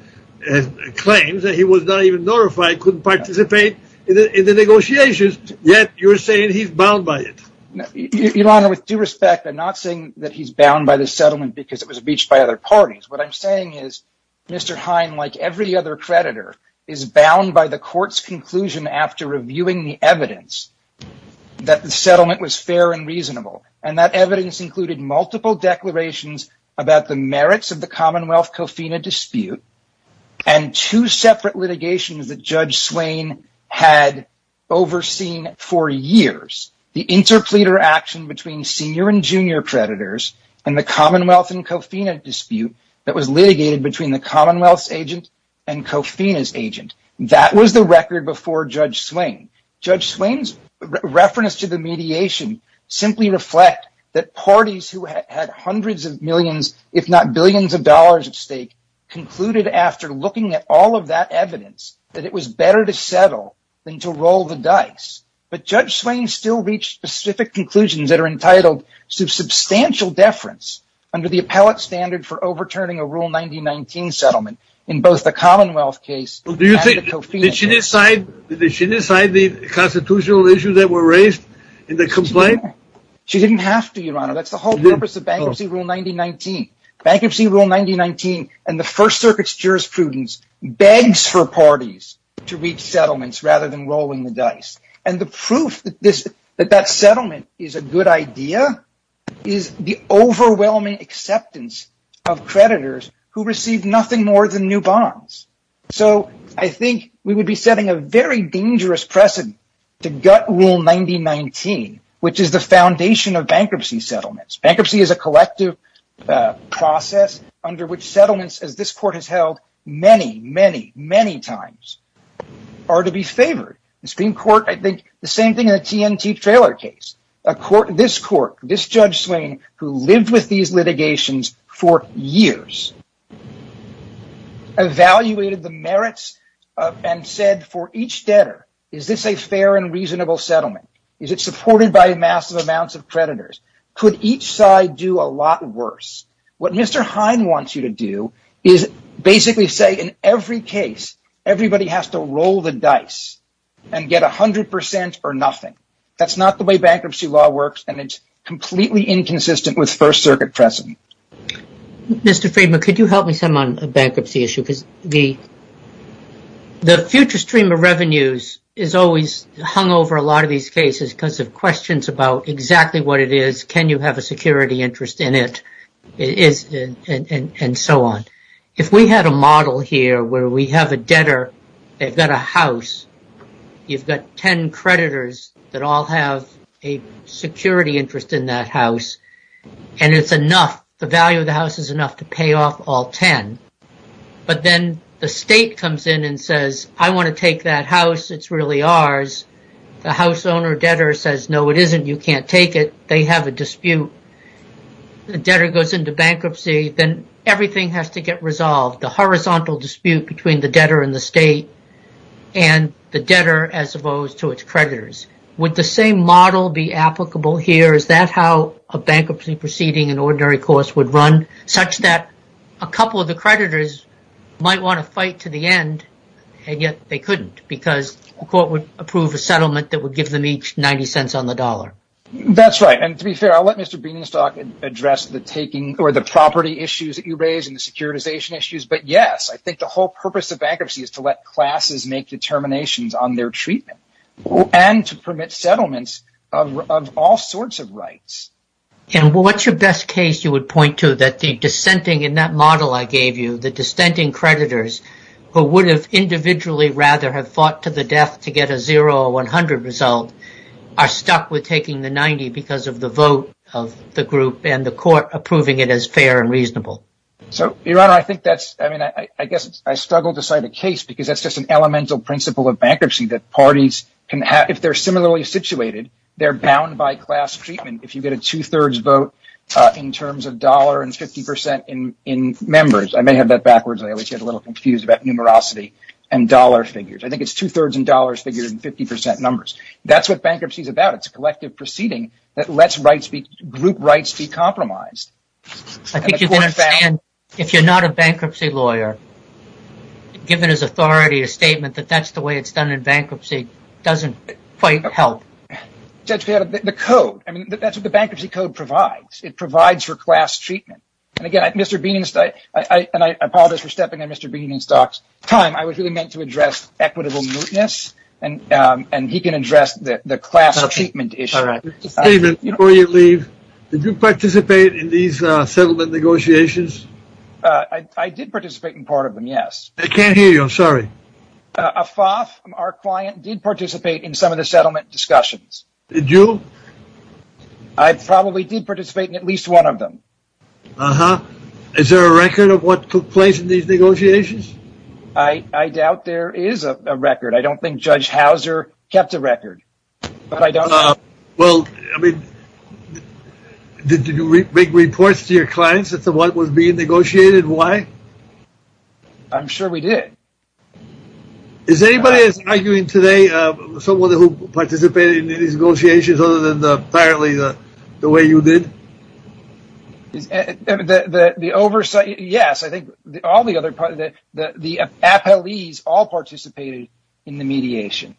and claims that he was not even notified, couldn't participate in the negotiations, yet you're saying he's bound by it. Your Honor, with due respect, I'm not saying that he's bound by the settlement because it was reached by other parties. What I'm saying is, Mr. Hine, like every other creditor, is bound by the court's conclusion after reviewing the evidence that the settlement was fair and reasonable. And that evidence included multiple declarations about the merits of the Commonwealth COFINA dispute, and two separate litigations that Judge Swain had overseen for years. The interpleater action between senior and junior creditors, and the Commonwealth and COFINA dispute that was litigated between the Commonwealth's agent and COFINA's agent. That was the record before Judge Swain. Judge Swain's reference to the mediation simply reflects that parties who had hundreds of millions, if not billions of dollars at stake, concluded after looking at all of that evidence that it was better to settle than to roll the dice. But Judge Swain still reached specific conclusions that are entitled to substantial deference under the appellate standard for overturning a Rule 9019 settlement in both the Commonwealth case and the COFINA case. Did she decide the constitutional issues that were raised in the complaint? She didn't have to, Your Honor. That's the whole purpose of Bankruptcy Rule 9019. Bankruptcy Rule 9019 and the First Circuit's jurisprudence begs for parties to reach settlements rather than rolling the dice. And the proof that that settlement is a good idea is the overwhelming acceptance of creditors who received nothing more than new bonds. So I think we would be setting a very dangerous precedent to gut Rule 9019, which is the foundation of bankruptcy settlements. Bankruptcy is a collective process under which settlements, as this Court has held many, many, many times, are to be favored. The Supreme Court, I think, the same thing in the TNT Trailer case. This Court, this Judge Swain, who lived with these litigations for years, evaluated the merits and said, for each debtor, is this a fair and reasonable settlement? Is it supported by massive amounts of creditors? Could each side do a lot worse? What Mr. Hine wants you to do is basically say, in every case, everybody has to roll the dice and get 100% or nothing. That's not the way bankruptcy law works, and it's completely inconsistent with First Circuit precedent. Mr. Friedman, could you help me some on a bankruptcy issue? The future stream of revenues is always hung over a lot of these cases because of questions about exactly what it is, can you have a security interest in it, and so on. If we had a model here where we have a debtor that got a house, you've got 10 creditors that all have a security interest in that house, and it's enough, the value of the house is enough to pay off all 10. But then the state comes in and says, I want to take that house, it's really ours. The house owner debtor says, no, it isn't, you can't take it, they have a dispute. The debtor goes into bankruptcy, then everything has to get resolved. The horizontal dispute between the debtor and the state and the debtor as opposed to its creditors. Would the same model be applicable here? Is that how a bankruptcy proceeding in ordinary course would run? Such that a couple of the creditors might want to fight to the end, and yet they couldn't because the court would approve a settlement that would give them each 90 cents on the dollar. That's right, and to be fair, I'll let Mr. Beanstalk address the property issues that you raised and the securitization issues, but yes, I think the whole purpose of bankruptcy is to let classes make determinations on their treatment. And to permit settlements of all sorts of rights. And what's your best case you would point to that the dissenting, in that model I gave you, the dissenting creditors who would have individually rather have fought to the death to get a 0 or 100 result are stuck with taking the 90 because of the vote of the group and the court approving it as fair and reasonable. Your Honor, I guess I struggle to cite a case because that's just an elemental principle of bankruptcy that parties can have. If they're similarly situated, they're bound by class treatment if you get a two-thirds vote in terms of dollar and 50% in members. I may have that backwards. I always get a little confused about numerosity and dollar figures. I think it's two-thirds in dollar figures and 50% numbers. That's what bankruptcy is about. It's a collective proceeding that lets group rights be compromised. I think you better understand, if you're not a bankruptcy lawyer, given his authority, a statement that that's the way it's done in bankruptcy doesn't quite help. Judge, the code, that's what the bankruptcy code provides. It provides for class treatment. And again, Mr. Beeney, and I apologize for stepping in Mr. Beeney's time, I was really meant to address equitable mootness and he can address the class treatment issue. Before you leave, did you participate in these settlement negotiations? I did participate in part of them, yes. I can't hear you, I'm sorry. Afaf, our client, did participate in some of the settlement discussions. Did you? I probably did participate in at least one of them. Is there a record of what took place in these negotiations? I doubt there is a record. I don't think Judge Hauser kept a record. Well, I mean, did you make reports to your clients as to what was being negotiated and why? I'm sure we did. Is anybody arguing today, someone who participated in these negotiations other than apparently the way you did? The oversight, yes. I think all the other parties, the appellees all participated in the mediation.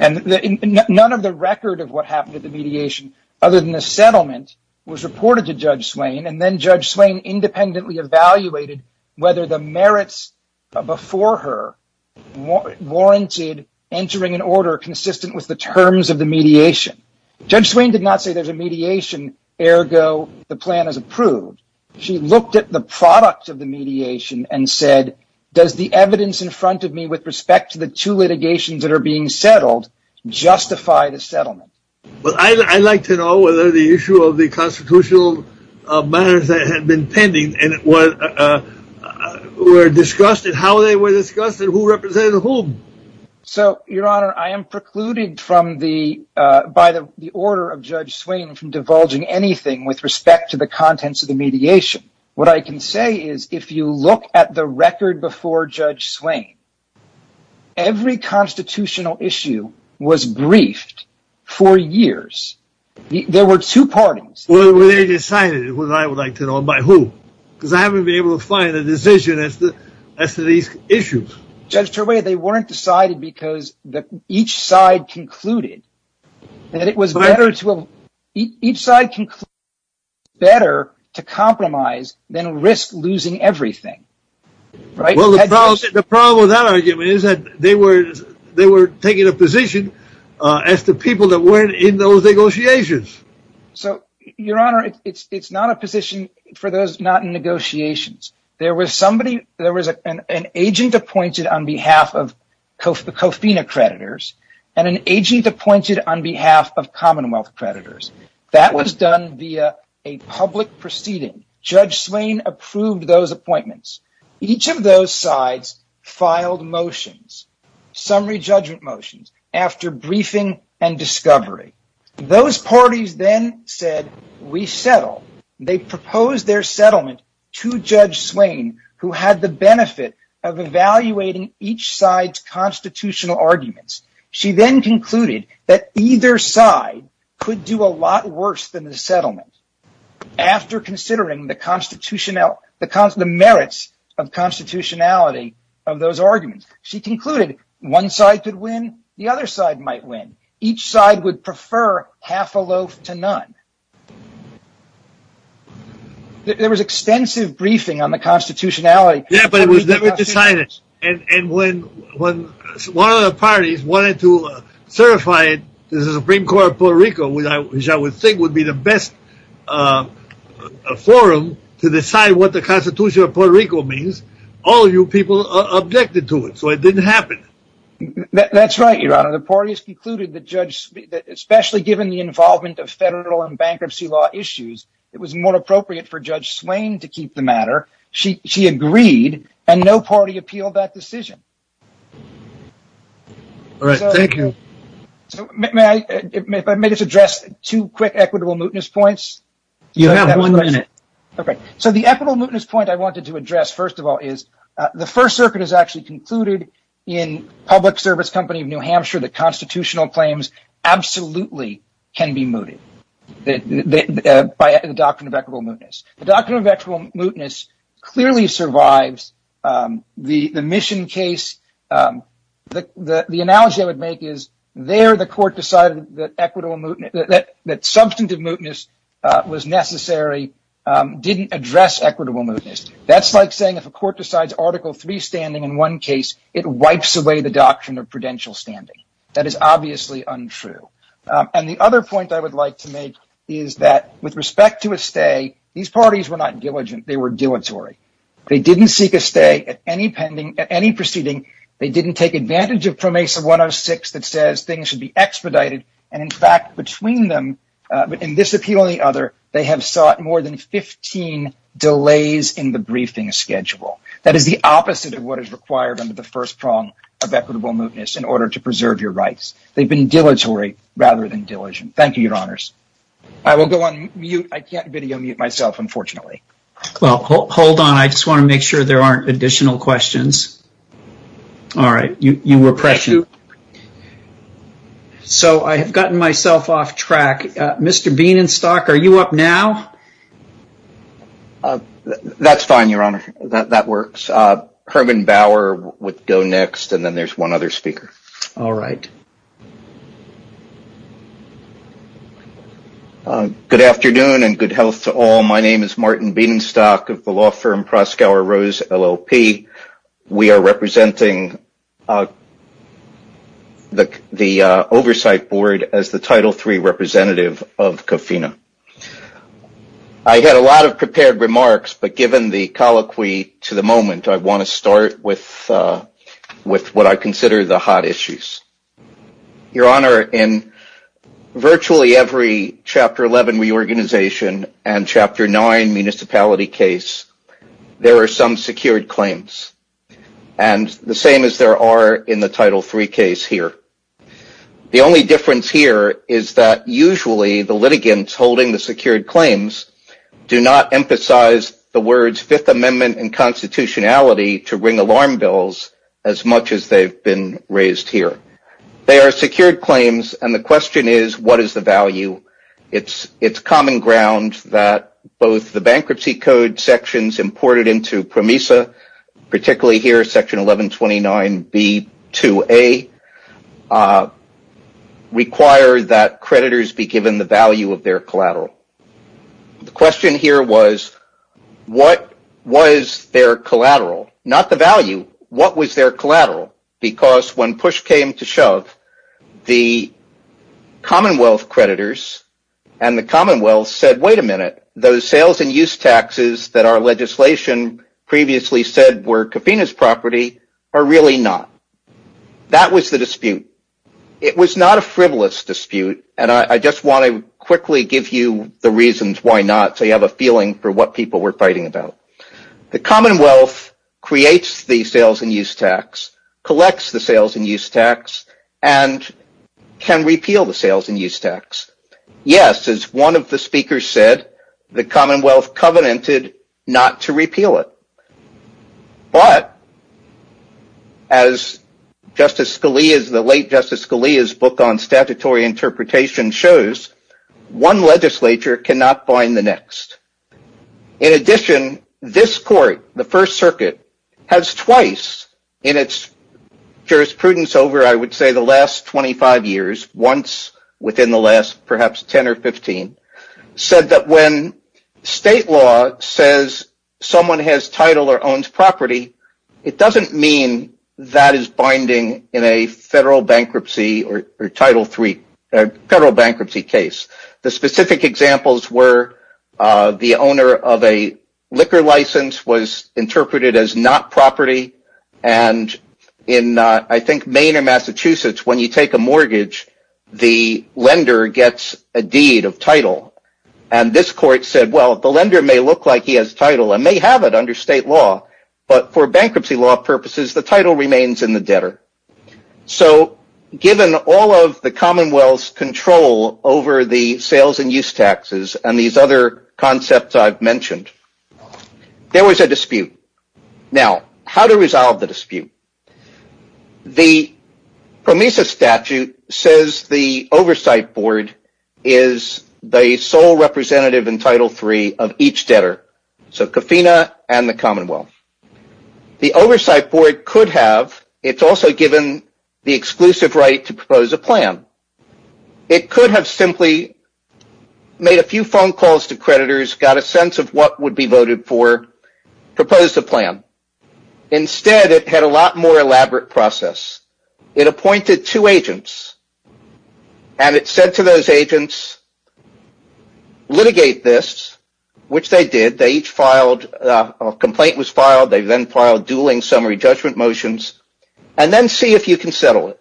None of the record of what happened at the mediation other than the settlement was reported to Judge Swain, and then Judge Swain independently evaluated whether the merits before her warranted entering an order consistent with the terms of the mediation. Judge Swain did not say there's a mediation, ergo the plan is approved. She looked at the product of the mediation and said, does the evidence in front of me with respect to the two litigations that are being settled justify the settlement? Well, I'd like to know whether the issue of the constitutional matters that had been pending and were discussed and how they were discussed and who represented whom. So, Your Honor, I am precluded by the order of Judge Swain from divulging anything with respect to the contents of the mediation. What I can say is, if you look at the record before Judge Swain, every constitutional issue was briefed for years. There were two parties. Well, they decided it was, I would like to know, by who? Because I haven't been able to find a decision as to these issues. Judge Turway, they weren't decided because each side concluded that it was better to compromise than risk losing everything. Well, the problem with that argument is that they were taking a position as the people that were in those negotiations. So, Your Honor, it's not a position for those not in negotiations. There was an agent appointed on behalf of the COFINA creditors and an agent appointed on behalf of Commonwealth creditors. That was done via a public proceeding. Judge Swain approved those appointments. Each of those sides filed motions, summary judgment motions, after briefing and discovery. Those parties then said, we settle. They proposed their settlement to Judge Swain, who had the benefit of evaluating each side's constitutional arguments. She then concluded that either side could do a lot worse than the settlement after considering the merits of constitutionality of those arguments. She concluded one side could win, the other side might win. Each side would prefer half a loaf to none. There was extensive briefing on the constitutionality. Yeah, but it was never decided. And when one of the parties wanted to certify it to the Supreme Court of Puerto Rico, which I would think would be the best forum to decide what the Constitution of Puerto Rico means, all of you people objected to it. So it didn't happen. That's right, Your Honor. The parties concluded that especially given the involvement of federal and bankruptcy law issues, it was more appropriate for Judge Swain to keep the matter. She agreed, and no party appealed that decision. All right, thank you. May I just address two quick equitable mootness points? You have one minute. Okay, so the equitable mootness point I wanted to address, first of all, is the First Circuit has actually concluded in Public Service Company of New Hampshire that constitutional claims absolutely can be mooted by the doctrine of equitable mootness. The doctrine of equitable mootness clearly survives the mission case. The analogy I would make is there the court decided that substantive mootness was necessary, didn't address equitable mootness. That's like saying if a court decides Article III standing in one case, it wipes away the doctrine of prudential standing. That is obviously untrue. And the other point I would like to make is that with respect to a stay, these parties were not diligent. They were dilatory. They didn't seek a stay at any proceeding. They didn't take advantage of Pro Mesa 106 that says things should be expedited. And, in fact, between this appeal and the other, they have sought more than 15 delays in the briefing schedule. That is the opposite of what is required under the first prong of equitable mootness in order to preserve your rights. They've been dilatory rather than diligent. Thank you, Your Honors. I will go on mute. I can't video mute myself, unfortunately. Well, hold on. I just want to make sure there aren't additional questions. All right. You were pressing. So I have gotten myself off track. Mr. Bienenstock, are you up now? That's fine, Your Honor. That works. Herman Bauer would go next, and then there's one other speaker. All right. Good afternoon and good health to all. My name is Martin Bienenstock of the law firm Proskauer Rose, LLP. We are representing the Oversight Board as the Title III representative of COFINA. I had a lot of prepared remarks, but given the colloquy to the moment, I want to start with what I consider the hot issues. Your Honor, in virtually every Chapter 11 reorganization and Chapter 9 municipality case, there are some secured claims, and the same as there are in the Title III case here. The only difference here is that usually the litigants holding the secured claims do not emphasize the words Fifth Amendment and constitutionality to ring alarm bells as much as they've been raised here. They are secured claims, and the question is, what is the value? It's common ground that both the bankruptcy code sections imported into PROMESA, particularly here, Section 1129B2A, require that creditors be given the value of their collateral. The question here was, what was their collateral? Not the value. What was their collateral? When push came to shove, the Commonwealth creditors and the Commonwealth said, wait a minute, those sales and use taxes that our legislation previously said were COFINA's property are really not. That was the dispute. It was not a frivolous dispute, and I just want to quickly give you the reasons why not so you have a feeling for what people were fighting about. The Commonwealth creates the sales and use tax, collects the sales and use tax, and can repeal the sales and use tax. Yes, as one of the speakers said, the Commonwealth covenanted not to repeal it, but as the late Justice Scalia's book on statutory interpretation shows, one legislature cannot bind the next. In addition, this court, the First Circuit, has twice in its jurisprudence over, I would say, the last 25 years, once within the last perhaps 10 or 15, said that when state law says someone has title or owns property, it doesn't mean that is binding in a federal bankruptcy case. The specific examples were the owner of a liquor license was interpreted as not property, and in, I think, Maine or Massachusetts, when you take a mortgage, the lender gets a deed of title. This court said, well, the lender may look like he has title and may have it under state law, but for bankruptcy law purposes, the title remains in the debtor. Given all of the Commonwealth's control over the sales and use taxes and these other concepts I've mentioned, there was a dispute. Now, how to resolve the dispute? The PROMESA statute says the oversight board is the sole representative in Title III of each debtor, so CAFINA and the Commonwealth. The oversight board could have. It's also given the exclusive right to propose a plan. It could have simply made a few phone calls to creditors, got a sense of what would be voted for, proposed a plan. Instead, it had a lot more elaborate process. It appointed two agents, and it said to those agents, litigate this, which they did. A complaint was filed. They then filed dueling summary judgment motions, and then see if you can settle it.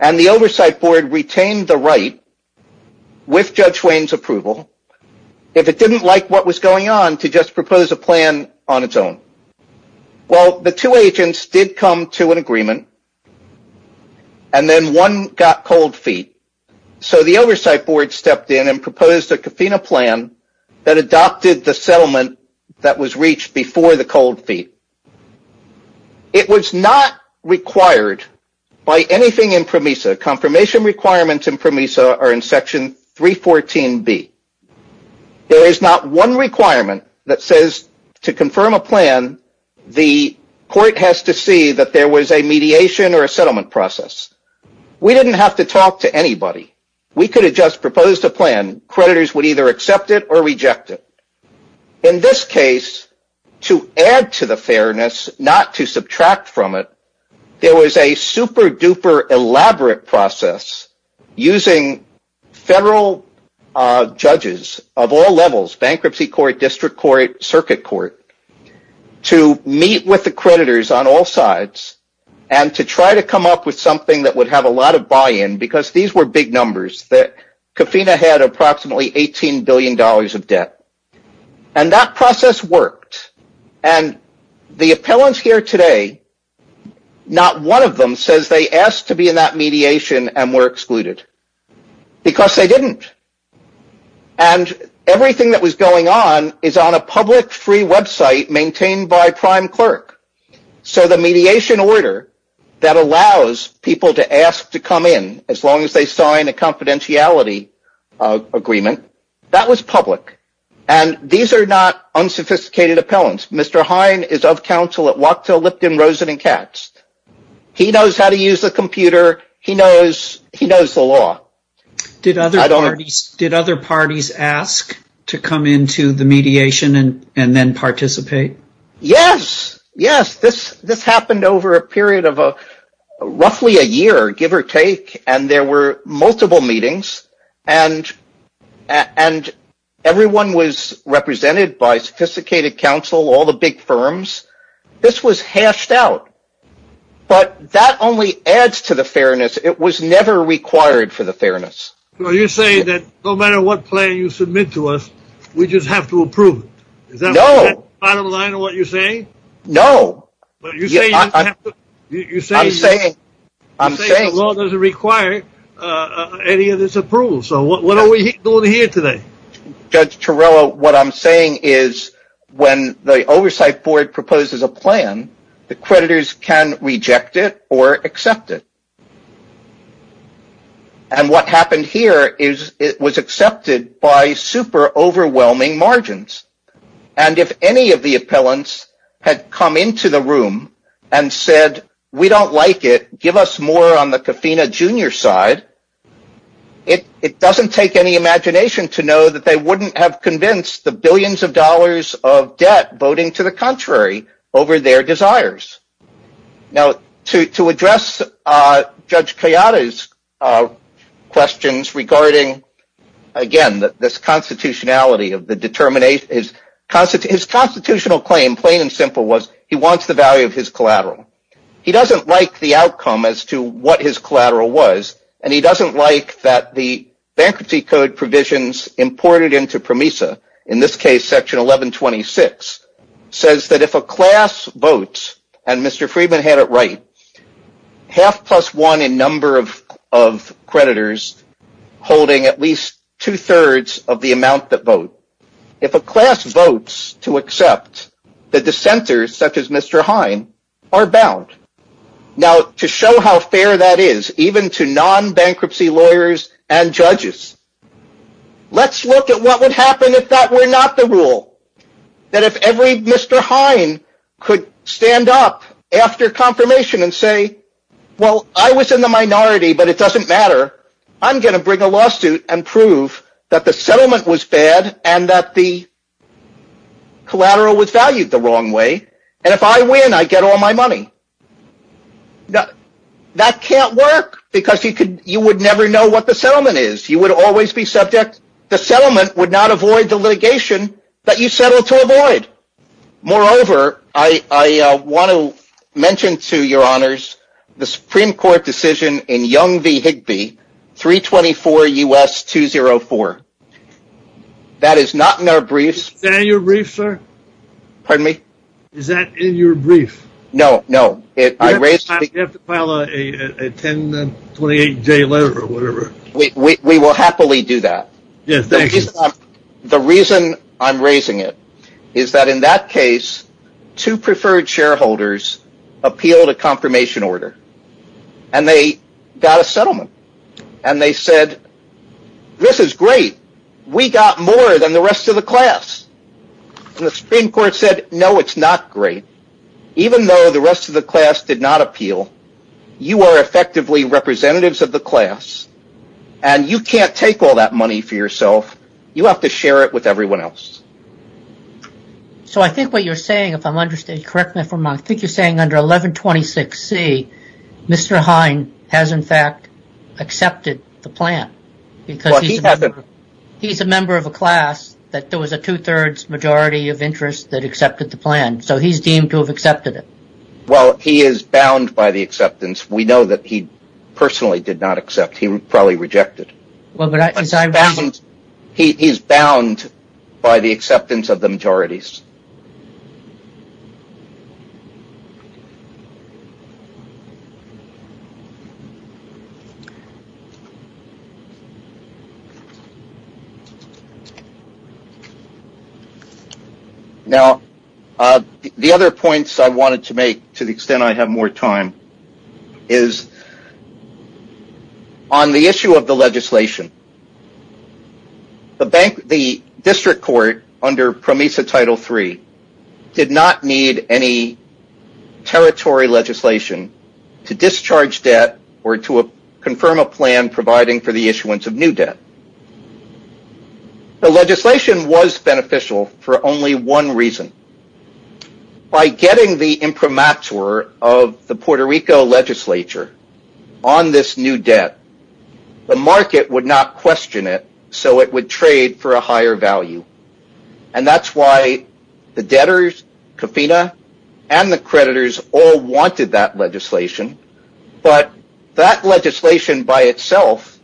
And the oversight board retained the right, with Judge Wayne's approval, if it didn't like what was going on, to just propose a plan on its own. Well, the two agents did come to an agreement, and then one got cold feet. So the oversight board stepped in and proposed a CAFINA plan that adopted the settlement that was reached before the cold feet. It was not required by anything in PROMESA. Confirmation requirements in PROMESA are in Section 314B. There is not one requirement that says, to confirm a plan, the court has to see that there was a mediation or a settlement process. We didn't have to talk to anybody. We could have just proposed a plan. Creditors would either accept it or reject it. In this case, to add to the fairness, not to subtract from it, there was a super-duper elaborate process using federal judges of all levels, bankruptcy court, district court, circuit court, to meet with the creditors on all sides and to try to come up with something that would have a lot of buy-in, because these were big numbers. CAFINA had approximately $18 billion of debt. And that process worked. And the appellants here today, not one of them says they asked to be in that mediation and were excluded, because they didn't. And everything that was going on is on a public, free website maintained by prime clerk. So the mediation order that allows people to ask to come in, as long as they sign a confidentiality agreement, that was public. And these are not unsophisticated appellants. Mr. Hine is of counsel at Wachtell, Lipton, Rosen, and Katz. He knows how to use the computer. He knows the law. I don't understand. Did other parties ask to come into the mediation and then participate? Yes, yes. This happened over a period of roughly a year, give or take, and there were multiple meetings. And everyone was represented by sophisticated counsel, all the big firms. This was hashed out. But that only adds to the fairness. It was never required for the fairness. So you're saying that no matter what plan you submit to us, we just have to approve it? No. Is that the bottom line of what you're saying? No. You're saying the law doesn't require any of this approval. So what are we doing here today? Judge Torello, what I'm saying is when the oversight board proposes a plan, the creditors can reject it or accept it. And what happened here is it was accepted by super overwhelming margins. And if any of the appellants had come into the room and said, we don't like it, give us more on the Coffina Jr. side, it doesn't take any imagination to know that they wouldn't have convinced the billions of dollars of debt voting to the contrary over their desires. Now, to address Judge Kayada's questions regarding, again, this constitutionality of the determination, his constitutional claim, plain and simple, was he wants the value of his collateral. He doesn't like the outcome as to what his collateral was. And he doesn't like that the bankruptcy code provisions imported into PROMESA, in this case, section 1126, says that if a class votes, and Mr. Friedman had it right, half plus one in number of creditors holding at least two-thirds of the amount that vote. If a class votes to accept, the dissenters, such as Mr. Hine, are bound. Now, to show how fair that is, even to non-bankruptcy lawyers and judges, let's look at what would happen if that were not the rule. That if every Mr. Hine could stand up after confirmation and say, well, I was in the minority, but it doesn't matter. I'm going to bring a lawsuit and prove that the settlement was bad and that the collateral was valued the wrong way. And if I win, I get all my money. That can't work, because you would never know what the settlement is. You would always be subject. The settlement would not avoid the litigation that you settled to avoid. Moreover, I want to mention to your honors the Supreme Court decision in Young v. Higbee, 324 U.S. 204. That is not in our briefs. Is that in your brief, sir? Pardon me? Is that in your brief? No, no. You have to file a 10-28-day letter or whatever. We will happily do that. Yes, thank you. The reason I'm raising it is that in that case, two preferred shareholders appealed a confirmation order, and they got a settlement. And they said, this is great. We got more than the rest of the class. And the Supreme Court said, no, it's not great. Even though the rest of the class did not appeal, you are effectively representatives of the class, and you can't take all that money for yourself. You have to share it with everyone else. So I think what you're saying, if I'm understanding correctly, I think you're saying under 1126C, Mr. Hine has in fact accepted the plan. He's a member of a class that there was a two-thirds majority of interest that accepted the plan, so he's deemed to have accepted it. Well, he is bound by the acceptance. We know that he personally did not accept. He would probably reject it. He's bound by the acceptance of the majorities. Now, the other points I wanted to make, to the extent I have more time, is on the issue of the legislation, the district court under PROMISA Title III did not need any territory legislation to discharge debt or to confirm a plan providing for the issuance of new debt. The legislation was beneficial for only one reason. By getting the imprimatur of the Puerto Rico legislature on this new debt, the market would not question it, so it would trade for a higher value. And that's why the debtors, Cofina, and the creditors all wanted that legislation, but that legislation by itself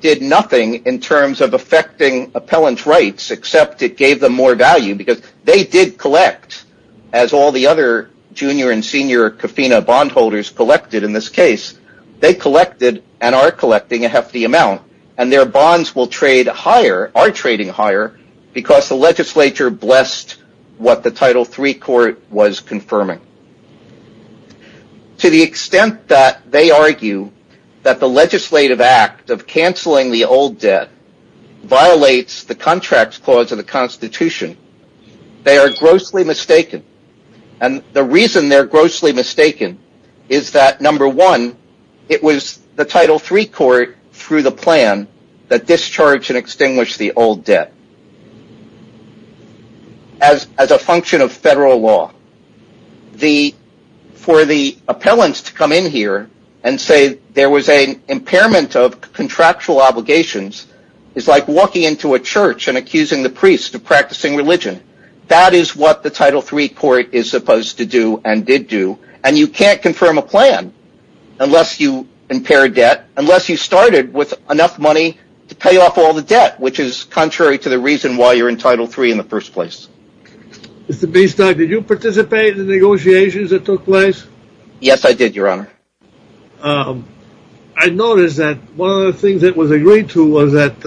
did nothing in terms of affecting appellant rights, except it gave them more value, because they did collect, as all the other junior and senior Cofina bondholders collected in this case. They collected and are collecting a hefty amount, and their bonds will trade higher, are trading higher, because the legislature blessed what the Title III court was confirming. To the extent that they argue that the legislative act of canceling the old debt violates the contract clause of the Constitution, they are grossly mistaken, and the reason they are grossly mistaken is that, number one, it was the Title III court, through the plan, that discharged and extinguished the old debt, as a function of federal law. For the appellants to come in here and say there was an impairment of contractual obligations is like walking into a church and accusing the priest of practicing religion. That is what the Title III court is supposed to do and did do, and you can't confirm a plan unless you impair debt, unless you started with enough money to pay off all the debt, which is contrary to the reason why you're in Title III in the first place. Mr. Biestock, did you participate in the negotiations that took place? Yes, I did, Your Honor. I noticed that one of the things that was agreed to was that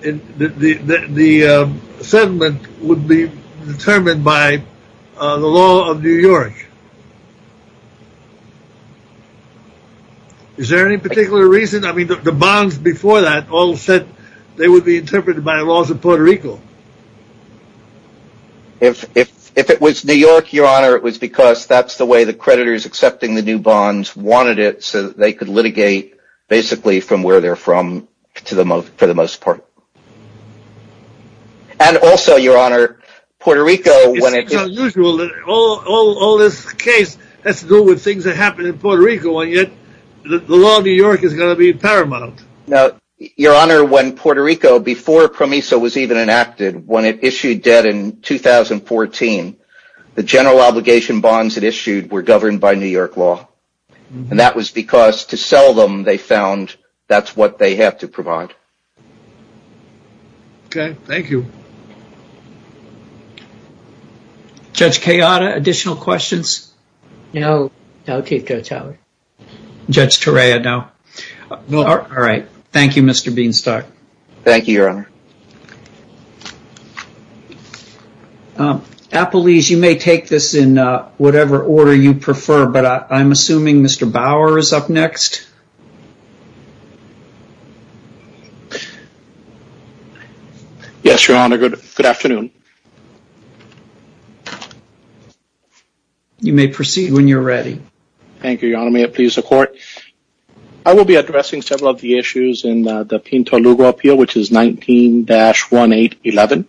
the settlement would be determined by the law of New York. Is there any particular reason? I mean, the bonds before that all said they would be interpreted by the laws of Puerto Rico. If it was New York, Your Honor, it was because that's the way the creditors accepting the new bonds wanted it, so they could litigate basically from where they're from for the most part. And also, Your Honor, Puerto Rico... It's unusual that all this case has to do with things that happened in Puerto Rico, and yet the law of New York is going to be paramount. Now, Your Honor, when Puerto Rico, before PROMISO was even enacted, when it issued debt in 2014, the general obligation bonds it issued were governed by New York law, and that was because to sell them, they found that's what they had to provide. Okay, thank you. Judge Kayada, additional questions? No, I'll take Judge Howard. Judge Torea, no. All right, thank you, Mr. Biestock. Thank you, Your Honor. Apeliz, you may take this in whatever order you prefer, but I'm assuming Mr. Bauer is up next. Yes, Your Honor, good afternoon. You may proceed when you're ready. Thank you, Your Honor, may it please the Court. I will be addressing several of the issues in the Pinto-Lugo appeal, which is 19-1811.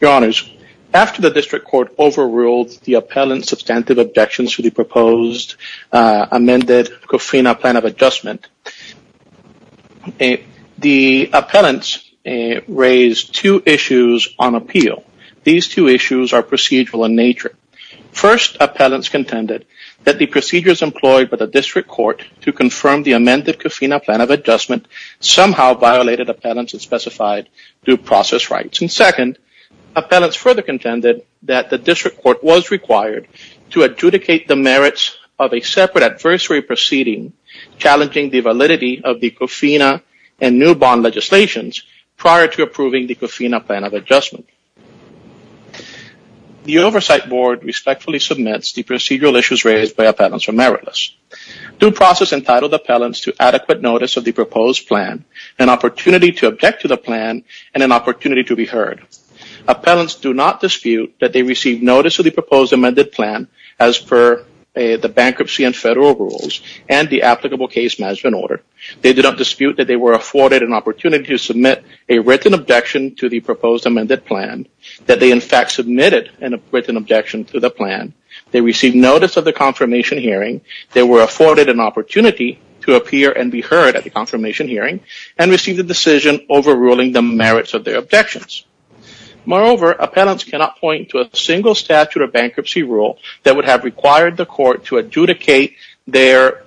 Your Honors, after the district court overruled the appellant's substantive objections to the proposed amended COFRINA plan of adjustment, the appellants raised two issues on appeal. First, appellants contended that the procedures employed by the district court to confirm the amended COFRINA plan of adjustment somehow violated appellants' specified due process rights. And second, appellants further contended that the district court was required to adjudicate the merits of a separate adversary proceeding challenging the validity of the COFRINA and new bond legislations prior to approving the COFRINA plan of adjustment. The Oversight Board respectfully submits the procedural issues raised by appellants or meritless. Due process entitled appellants to adequate notice of the proposed plan, an opportunity to object to the plan, and an opportunity to be heard. Appellants do not dispute that they received notice of the proposed amended plan as per the bankruptcy and federal rules and the applicable case management order. They do not dispute that they were afforded an opportunity to submit a written objection to the proposed amended plan, that they in fact submitted a written objection to the plan, they received notice of the confirmation hearing, they were afforded an opportunity to appear and be heard at the confirmation hearing, and received a decision overruling the merits of their objections. Moreover, appellants cannot point to a single statute of bankruptcy rule that would have required the court to adjudicate their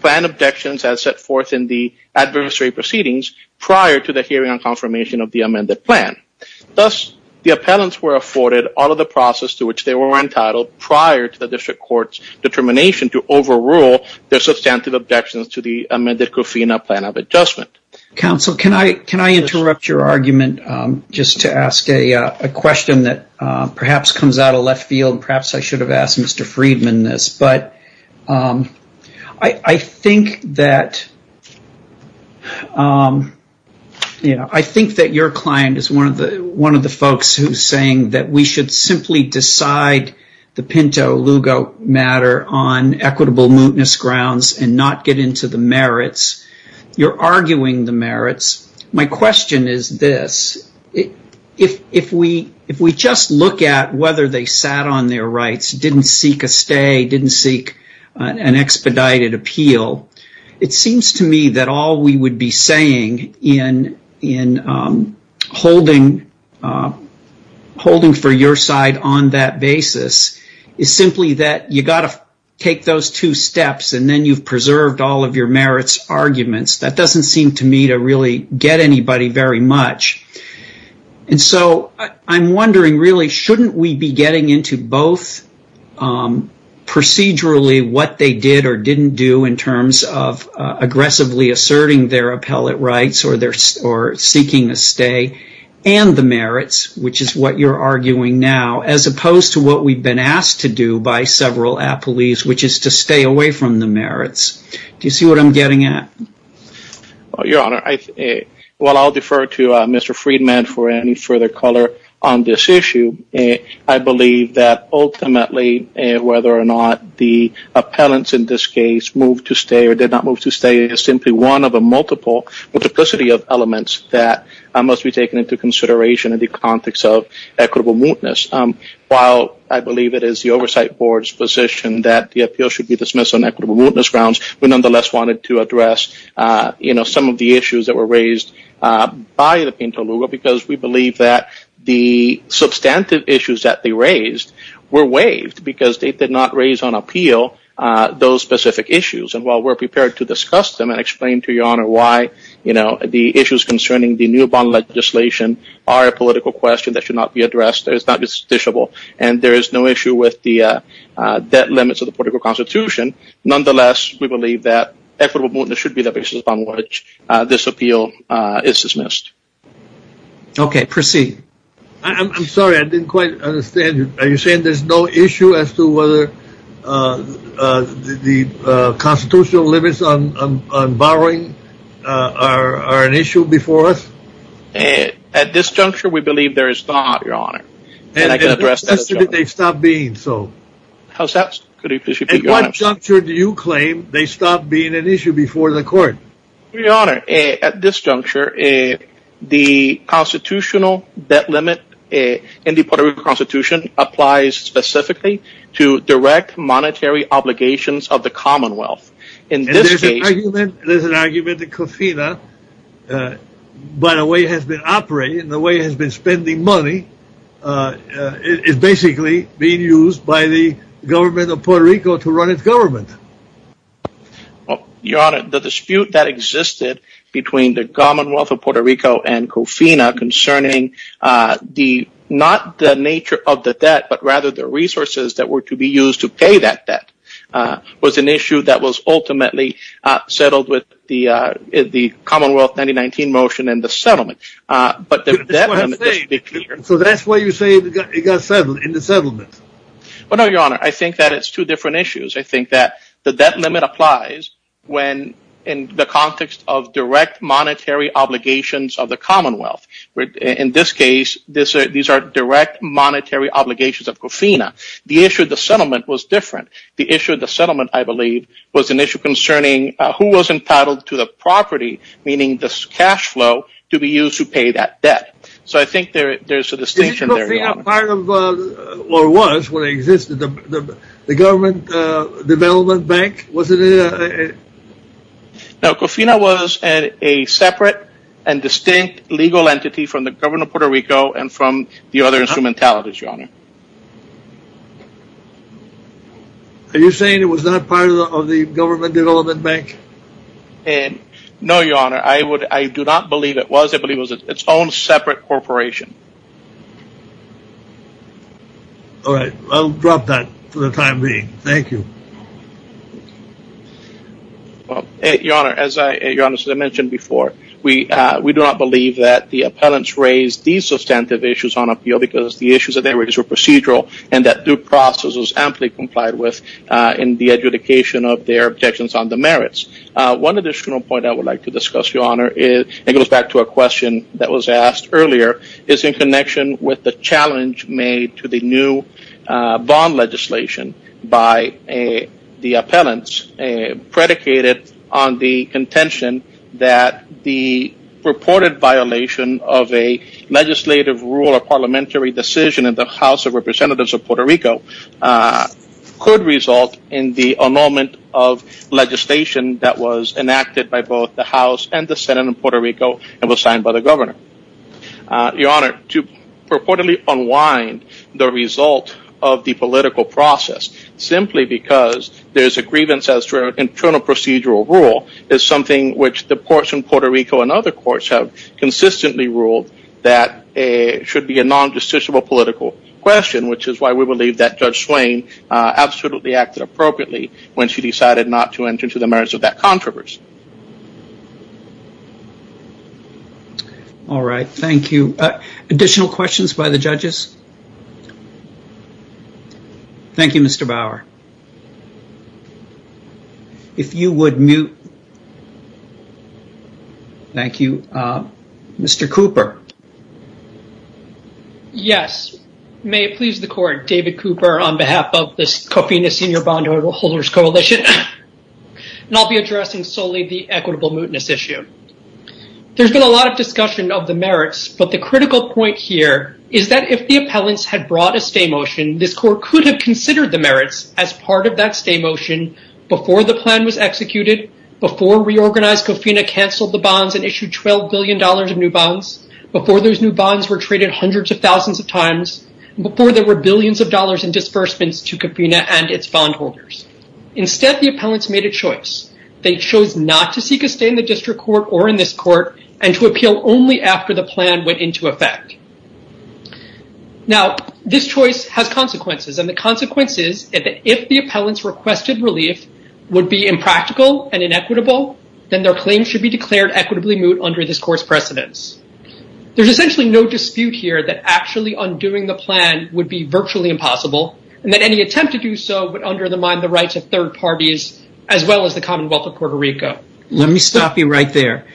planned objections as set forth in the adversary proceedings prior to the hearing and confirmation of the amended plan. Thus, the appellants were afforded all of the process to which they were entitled prior to the district court's determination to overrule their substantive objections to the amended COFRINA plan of adjustment. Counsel, can I interrupt your argument just to ask a question that perhaps comes out of left field? Perhaps I should have asked Mr. Friedman this, but I think that your client is one of the folks who's saying that we should simply decide the Pinto-Lugo matter on equitable mootness grounds and not get into the merits. You're arguing the merits. My question is this. If we just look at whether they sat on their rights, didn't seek a stay, didn't seek an expedited appeal, it seems to me that all we would be saying in holding for your side on that basis is simply that you've got to take those two steps and then you've preserved all of your merits arguments. That doesn't seem to me to really get anybody very much. And so I'm wondering, really, shouldn't we be getting into both procedurally what they did or didn't do in terms of aggressively asserting their appellate rights or seeking a stay and the merits, which is what you're arguing now, as opposed to what we've been asked to do by several appellees, which is to stay away from the merits. Do you see what I'm getting at? Your Honor, while I'll defer to Mr. Friedman for any further color on this issue, I believe that ultimately whether or not the appellants in this case moved to stay or did not move to stay is simply one of a multiplicity of elements that must be taken into consideration in the context of equitable mootness. While I believe it is the Oversight Board's position that the appeal should be dismissed on equitable mootness grounds, we nonetheless wanted to address some of the issues that were raised by the pinto luga because we believe that the substantive issues that they raised were waived because they did not raise on appeal those specific issues. And while we're prepared to discuss them and explain to your Honor why the issues concerning the new bond legislation are a political question that should not be addressed, it's not justiciable, and there is no issue with the debt limits of the political constitution, nonetheless we believe that equitable mootness should be the basis upon which this appeal is dismissed. Okay, proceed. I'm sorry, I didn't quite understand. Are you saying there's no issue as to whether the constitutional limits on borrowing are an issue before us? At this juncture, we believe there is not, your Honor. And at what juncture did they stop being so? How's that? At what juncture do you claim they stopped being an issue before the court? Your Honor, at this juncture, the constitutional debt limit in the political constitution applies specifically to direct monetary obligations of the commonwealth. And there's an argument that COFINA, by the way it has been operating, the way it has been spending money, is basically being used by the government of Puerto Rico to run its government. Your Honor, the dispute that existed between the commonwealth of Puerto Rico and COFINA concerning not the nature of the debt, but rather the resources that were to be used to pay that debt was an issue that was ultimately settled with the commonwealth 1919 motion and the settlement. So that's why you say it got settled in the settlement? No, your Honor, I think that it's two different issues. I think that the debt limit applies when in the context of direct monetary obligations of the commonwealth. In this case, these are direct monetary obligations of COFINA. The issue of the settlement was different. The issue of the settlement, I believe, was an issue concerning who was entitled to the property, meaning the cash flow, to be used to pay that debt. So I think there's a distinction there. Was COFINA part of, or was when it existed, the government development bank? No, COFINA was a separate and distinct legal entity from the government of Puerto Rico and from the other instrumentalities, your Honor. Are you saying it was not part of the government development bank? No, your Honor, I do not believe it was. I believe it was its own separate corporation. All right, I'll drop that for the time being. Thank you. Your Honor, as I mentioned before, we do not believe that the appellants raised these substantive issues on appeal because the issues that they raised were procedural and that due process was amply complied with in the adjudication of their objections on the merits. One additional point I would like to discuss, your Honor, and it goes back to a question that was asked earlier, is in connection with the challenge made to the new bond legislation by the appellants predicated on the contention that the purported violation of a legislative rule or parliamentary decision in the House of Representatives of Puerto Rico could result in the annulment of legislation that was enacted by both the House and the Senate in Puerto Rico and was signed by the governor. Your Honor, to purportedly unwind the result of the political process simply because there is a grievance as to an internal procedural rule is something which the courts in Puerto Rico and other courts have consistently ruled that it should be a non-justiciable political question, which is why we believe that Judge Swain absolutely acted appropriately when she decided not to enter into the merits of that controversy. All right. Thank you. Additional questions by the judges? Thank you, Mr. Bauer. If you would mute. Thank you. Mr. Cooper. Yes. May it please the Court, David Cooper, on behalf of the Cofina Senior Bond, Valuable Holders Coalition, and I'll be addressing solely the equitable mootness issue. There's been a lot of discussion of the merits, but the critical point here is that if the appellants had brought a stay motion, this Court could have considered the merits as part of that stay motion before the plan was executed, before Reorganized Cofina canceled the bonds and issued $12 billion in new bonds, before those new bonds were traded hundreds of thousands of times, before there were billions of dollars in disbursements to Cofina and its bondholders. Instead, the appellants made a choice. They chose not to seek a stay in the district court or in this court and to appeal only after the plan went into effect. Now, this choice has consequences, and the consequences is that if the appellants' requested relief would be impractical and inequitable, then their claim should be declared equitably moot under this Court's precedence. There's essentially no dispute here that actually undoing the plan would be virtually impossible, and that any attempt to do so would undermine the rights of third parties as well as the Commonwealth of Puerto Rico. Let me stop you right there.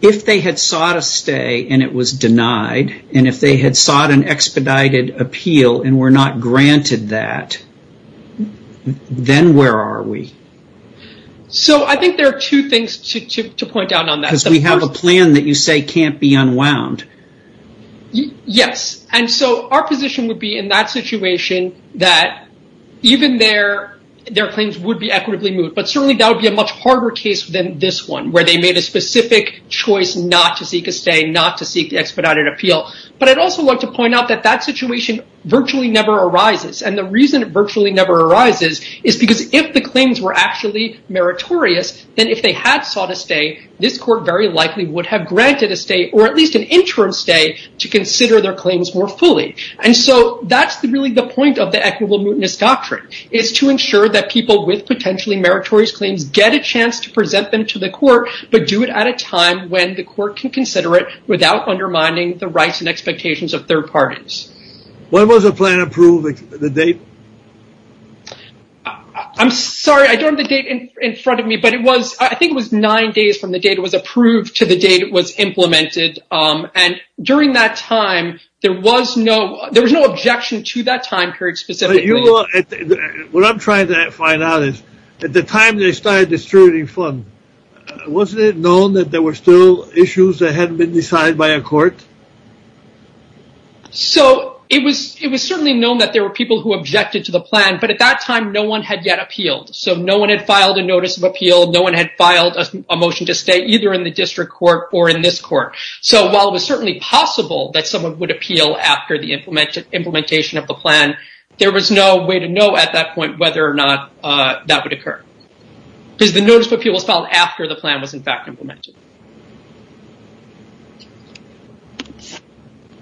If they had sought a stay and it was denied, and if they had sought an expedited appeal and were not granted that, then where are we? So, I think there are two things to point out on that. Because we have a plan that you say can't be unwound. Yes, and so our position would be in that situation that even there, their claims would be equitably moot, but certainly that would be a much harder case than this one where they made a specific choice not to seek a stay, not to seek the expedited appeal. But I'd also like to point out that that situation virtually never arises, and the reason it virtually never arises is because if the claims were actually meritorious, then if they had sought a stay, this court very likely would have granted a stay or at least an interim stay to consider their claims more fully. And so that's really the point of the equitable mootness doctrine is to ensure that people with potentially meritorious claims get a chance to present them to the court, but do it at a time when the court can consider it without undermining the rights and expectations of third parties. When was the plan approved, the date? I'm sorry, I don't have the date in front of me, but I think it was nine days from the date it was approved to the date it was implemented. And during that time, there was no objection to that time period specifically. What I'm trying to find out is at the time they started distributing funds, wasn't it known that there were still issues that hadn't been decided by a court? So it was certainly known that there were people who objected to the plan, but at that time no one had yet appealed. So no one had filed a notice of appeal. No one had filed a motion to stay either in the district court or in this court. So while it was certainly possible that someone would appeal after the implementation of the plan, there was no way to know at that point whether or not that would occur. Because the notice of appeal was filed after the plan was in fact implemented.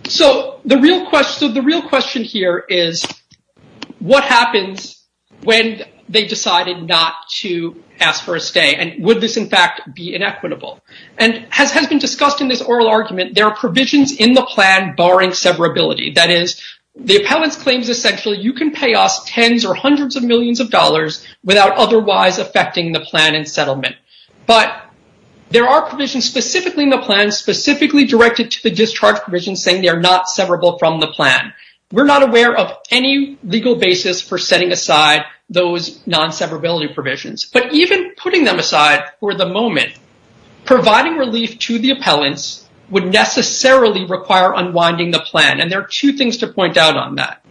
So the real question here is what happens when they decided not to ask for a stay? And would this in fact be inequitable? And as has been discussed in this oral argument, there are provisions in the plan barring severability. That is, the appellant claims essentially you can pay off tens or hundreds But there are provisions specifically in the plan, specifically directed to the discharge provision, saying they are not severable from the plan. We're not aware of any legal basis for setting aside those non-severability provisions. But even putting them aside for the moment, providing relief to the appellants would necessarily require unwinding the plan. And there are two things to point out on that.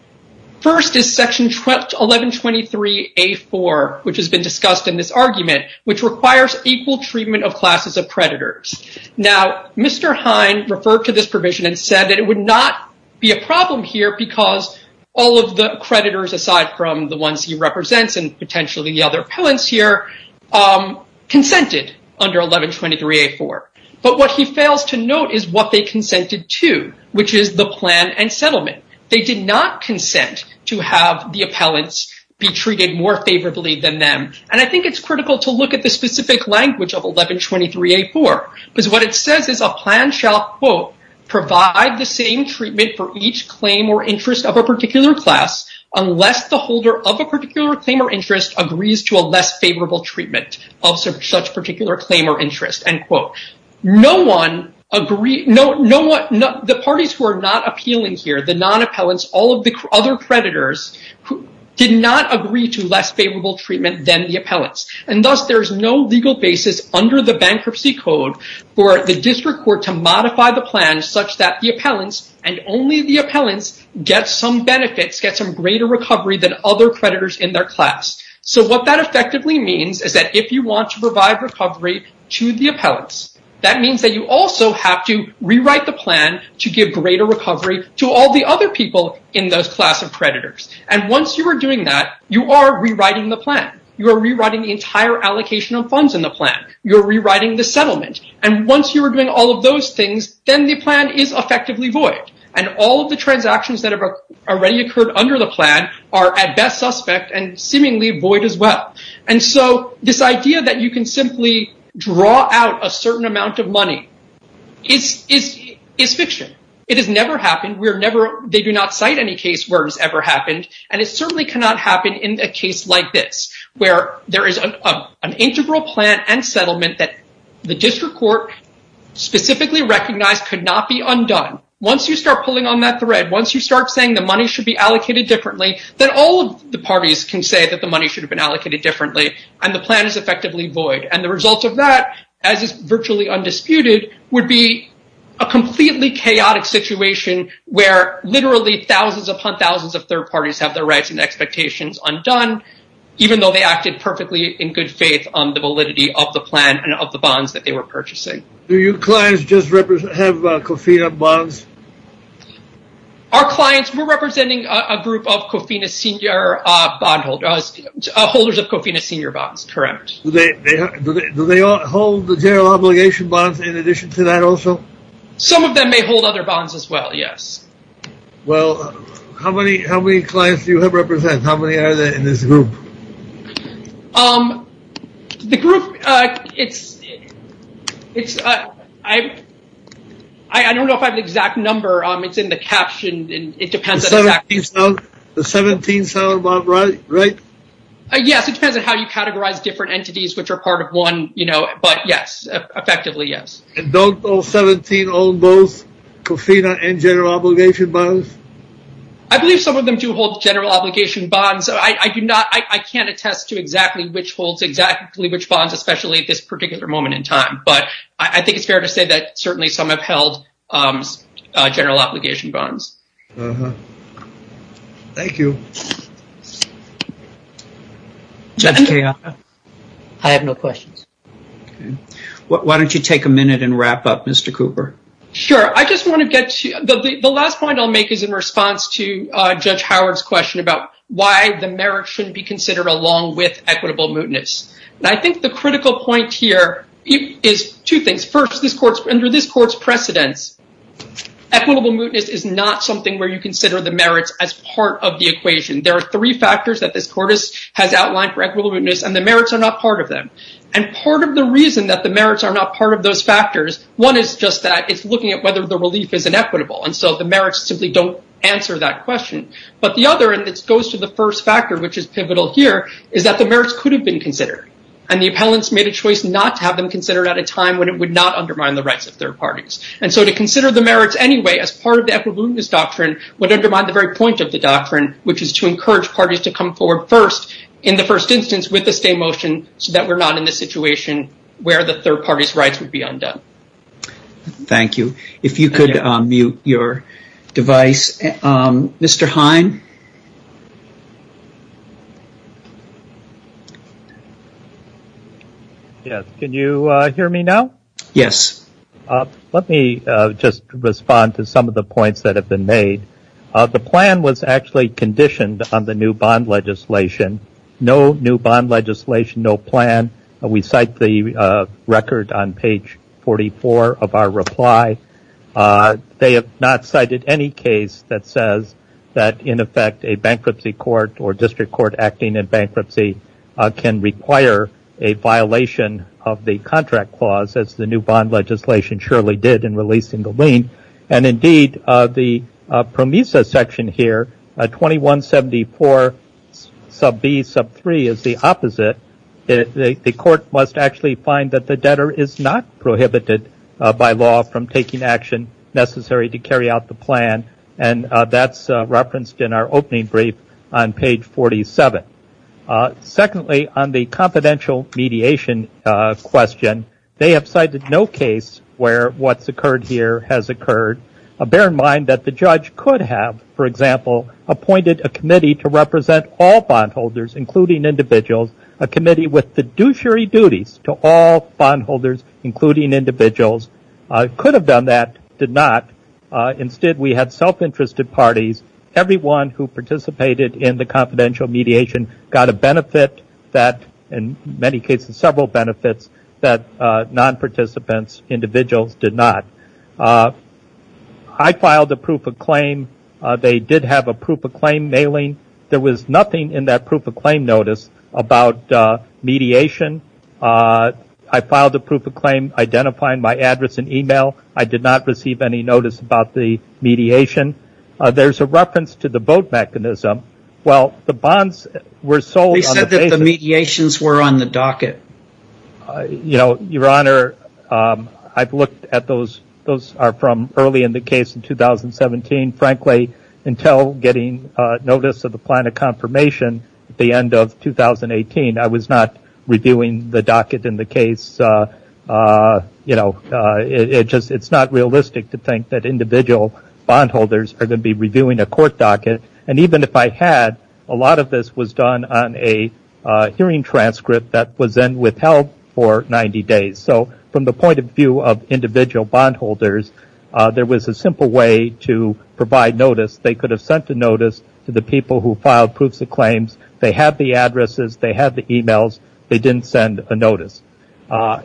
First is section 1123A4, which has been discussed in this argument, which requires equal treatment of classes of creditors. Now, Mr. Hine referred to this provision and said that it would not be a problem here because all of the creditors, aside from the ones he represents and potentially the other appellants here, consented under 1123A4. But what he fails to note is what they consented to, which is the plan and settlement. They did not consent to have the appellants be treated more favorably than them. And I think it's critical to look at the specific language of 1123A4, because what it says is a plan shall, quote, provide the same treatment for each claim or interest of a particular class unless the holder of a particular claim or interest agrees to a less favorable treatment of such particular claim or interest, end quote. No one agreed, the parties who are not appealing here, the non-appellants, all of the other creditors did not agree to less favorable treatment than the appellants. And thus, there is no legal basis under the bankruptcy code for the district court to modify the plan such that the appellants and only the appellants get some benefits, get some greater recovery than other creditors in their class. So what that effectively means is that if you want to provide recovery to the appellants, that means that you also have to rewrite the plan to give greater recovery to all the other people in those class of creditors. And once you are doing that, you are rewriting the plan. You are rewriting the entire allocation of funds in the plan. You are rewriting the settlement. And once you are doing all of those things, then the plan is effectively void. And all of the transactions that have already occurred under the plan are at best suspect and seemingly void as well. And so this idea that you can simply draw out a certain amount of money, it's fiction. It has never happened. They do not cite any case where it has ever happened. And it certainly cannot happen in a case like this where there is an integral plan and settlement that the district court specifically recognized could not be undone. Once you start pulling on that thread, once you start saying the money should be allocated differently, then all of the parties can say that the money should have been allocated differently, and the plan is effectively void. And the result of that, as is virtually undisputed, would be a completely chaotic situation where literally thousands upon thousands of third parties have their rights and expectations undone, even though they acted perfectly in good faith on the validity of the plan and of the bonds that they were purchasing. Do your clients just have Cofina bonds? Our clients, we are representing a group of Cofina senior bondholders, holders of Cofina senior bonds, correct. Do they hold the general obligation bonds in addition to that also? Some of them may hold other bonds as well, yes. Well, how many clients do you represent? How many are there in this group? The group, I don't know if I have the exact number. It's in the caption. It depends on how you categorize different entities which are part of one, but yes, effectively, yes. And don't all 17 own both Cofina and general obligation bonds? I believe some of them do hold general obligation bonds. I can't attest to exactly which holds exactly which bonds, especially at this particular moment in time, but I think it's fair to say that certainly some have held general obligation bonds. Thank you. I have no questions. Why don't you take a minute and wrap up, Mr. Cooper? Sure. I just want to get to the last point I'll make is in response to Judge Howard's question about why the merit shouldn't be considered along with equitable mootness. And I think the critical point here is two things. First, under this court's precedent, equitable mootness is not something where you consider the merits as part of the equation. There are three factors that this court has outlined for equitable mootness, and the merits are not part of them. And part of the reason that the merits are not part of those factors, one is just that it's looking at whether the relief is inequitable, and so the merits simply don't answer that question. But the other, and this goes to the first factor which is pivotal here, is that the merits could have been considered, and the appellants made a choice not to have them considered at a time when it would not undermine the rights of third parties. And so to consider the merits anyway as part of the equitable mootness doctrine would undermine the very point of the doctrine, which is to encourage parties to come forward first in the first instance with the same motion so that we're not in this situation where the third party's rights would be undone. Thank you. If you could mute your device. Mr. Heim? Yes, can you hear me now? Yes. Let me just respond to some of the points that have been made. The plan was actually conditioned on the new bond legislation. No new bond legislation, no plan. We cite the record on page 44 of our reply. They have not cited any case that says that, in effect, a bankruptcy court or district court acting in bankruptcy can require a violation of the contract clause, as the new bond legislation surely did in releasing the lien. And, indeed, the PROMISA section here, 2174 sub B, sub 3, is the opposite. The court must actually find that the debtor is not prohibited by law from taking action necessary to carry out the plan, and that's referenced in our opening brief on page 47. Secondly, on the confidential mediation question, they have cited no case where what's occurred here has occurred. Bear in mind that the judge could have, for example, appointed a committee to represent all bondholders, including individuals, a committee with the duty to all bondholders, including individuals, could have done that, did not. Instead, we had self-interested parties. Everyone who participated in the confidential mediation got a benefit that, in many cases, several benefits that non-participants, individuals, did not. I filed a proof of claim. They did have a proof of claim mailing. There was nothing in that proof of claim notice about mediation. I filed a proof of claim identifying my address and e-mail. I did not receive any notice about the mediation. There's a reference to the vote mechanism. Well, the bonds were sold on the basis of the mediations were on the docket. You know, Your Honor, I've looked at those. Those are from early in the case in 2017, frankly, until getting notice of the plan of confirmation at the end of 2018. I was not reviewing the docket in the case. You know, it's not realistic to think that individual bondholders are going to be reviewing a court docket. And even if I had, a lot of this was done on a hearing transcript that was then withheld for 90 days. So from the point of view of individual bondholders, there was a simple way to provide notice. They could have sent a notice to the people who filed proofs of claims. They had the addresses. They had the e-mails. They didn't send a notice.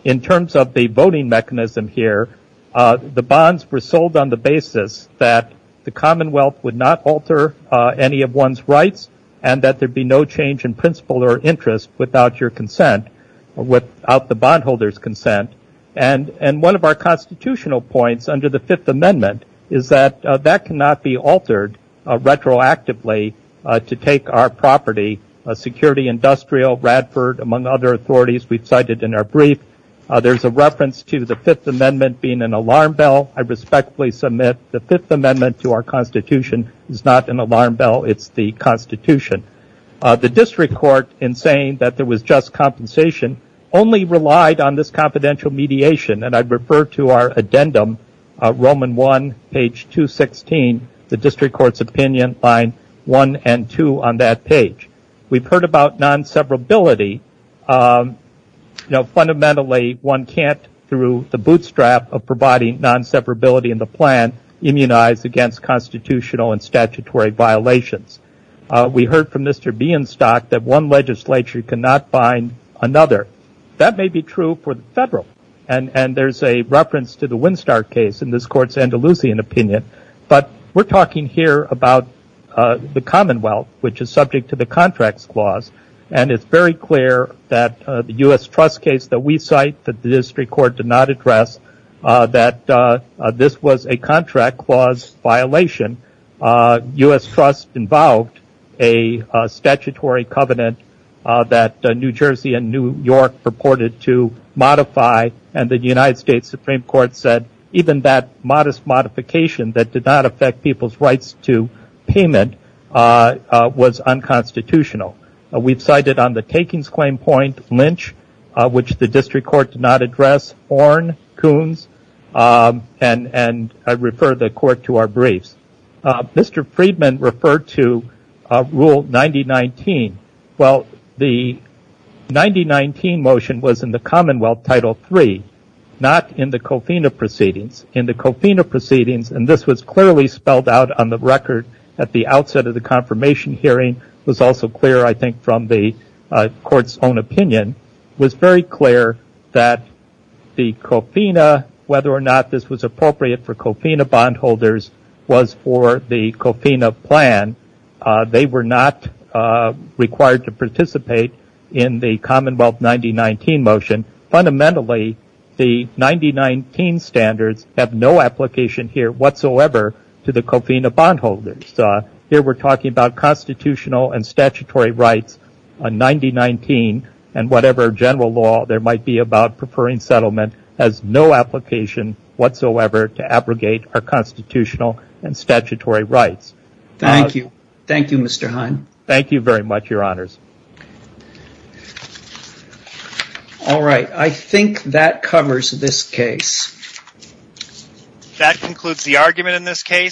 In terms of the voting mechanism here, the bonds were sold on the basis that the Commonwealth would not alter any of one's rights and that there'd be no change in principle or interest without your consent, without the bondholder's consent. And one of our constitutional points under the Fifth Amendment is that that cannot be altered retroactively to take our property, security industrial, Radford, among other authorities we've cited in our brief. There's a reference to the Fifth Amendment being an alarm bell. I respectfully submit the Fifth Amendment to our Constitution is not an alarm bell. It's the Constitution. The district court, in saying that there was just compensation, only relied on this confidential mediation. And I'd refer to our addendum, Roman 1, page 216. The district court's opinion on 1 and 2 on that page. We've heard about non-separability. Fundamentally, one can't, through the bootstrap of providing non-separability in the plan, immunize against constitutional and statutory violations. We heard from Mr. Bienstock that one legislature cannot bind another. That may be true for the federal. And there's a reference to the Winstar case in this court's Andalusian opinion. But we're talking here about the Commonwealth, which is subject to the Contracts Clause. And it's very clear that the U.S. Trust case that we cite that the district court did not address, that this was a contract clause violation. U.S. Trust involved a statutory covenant that New Jersey and New York purported to modify. And the United States Supreme Court said even that modest modification that did not affect people's rights to payment was unconstitutional. We've cited on the takings claim point, Lynch, which the district court did not address, Ornn, Coombs, and I refer the court to our briefs. Mr. Friedman referred to Rule 9019. Well, the 9019 motion was in the Commonwealth Title III, not in the Cofina proceedings. In the Cofina proceedings, and this was clearly spelled out on the record at the outset of the confirmation hearing, was also clear, I think, from the court's own opinion, was very clear that the Cofina, whether or not this was appropriate for Cofina bondholders was for the Cofina plan. They were not required to participate in the Commonwealth 9019 motion. Fundamentally, the 9019 standards have no application here whatsoever to the Cofina bondholders. Here we're talking about constitutional and statutory rights, 9019, and whatever general law there might be about preferring settlement has no application whatsoever to abrogate our constitutional and statutory rights. Thank you. Thank you, Mr. Heine. Thank you very much, Your Honors. All right. I think that covers this case. That concludes the argument in this case.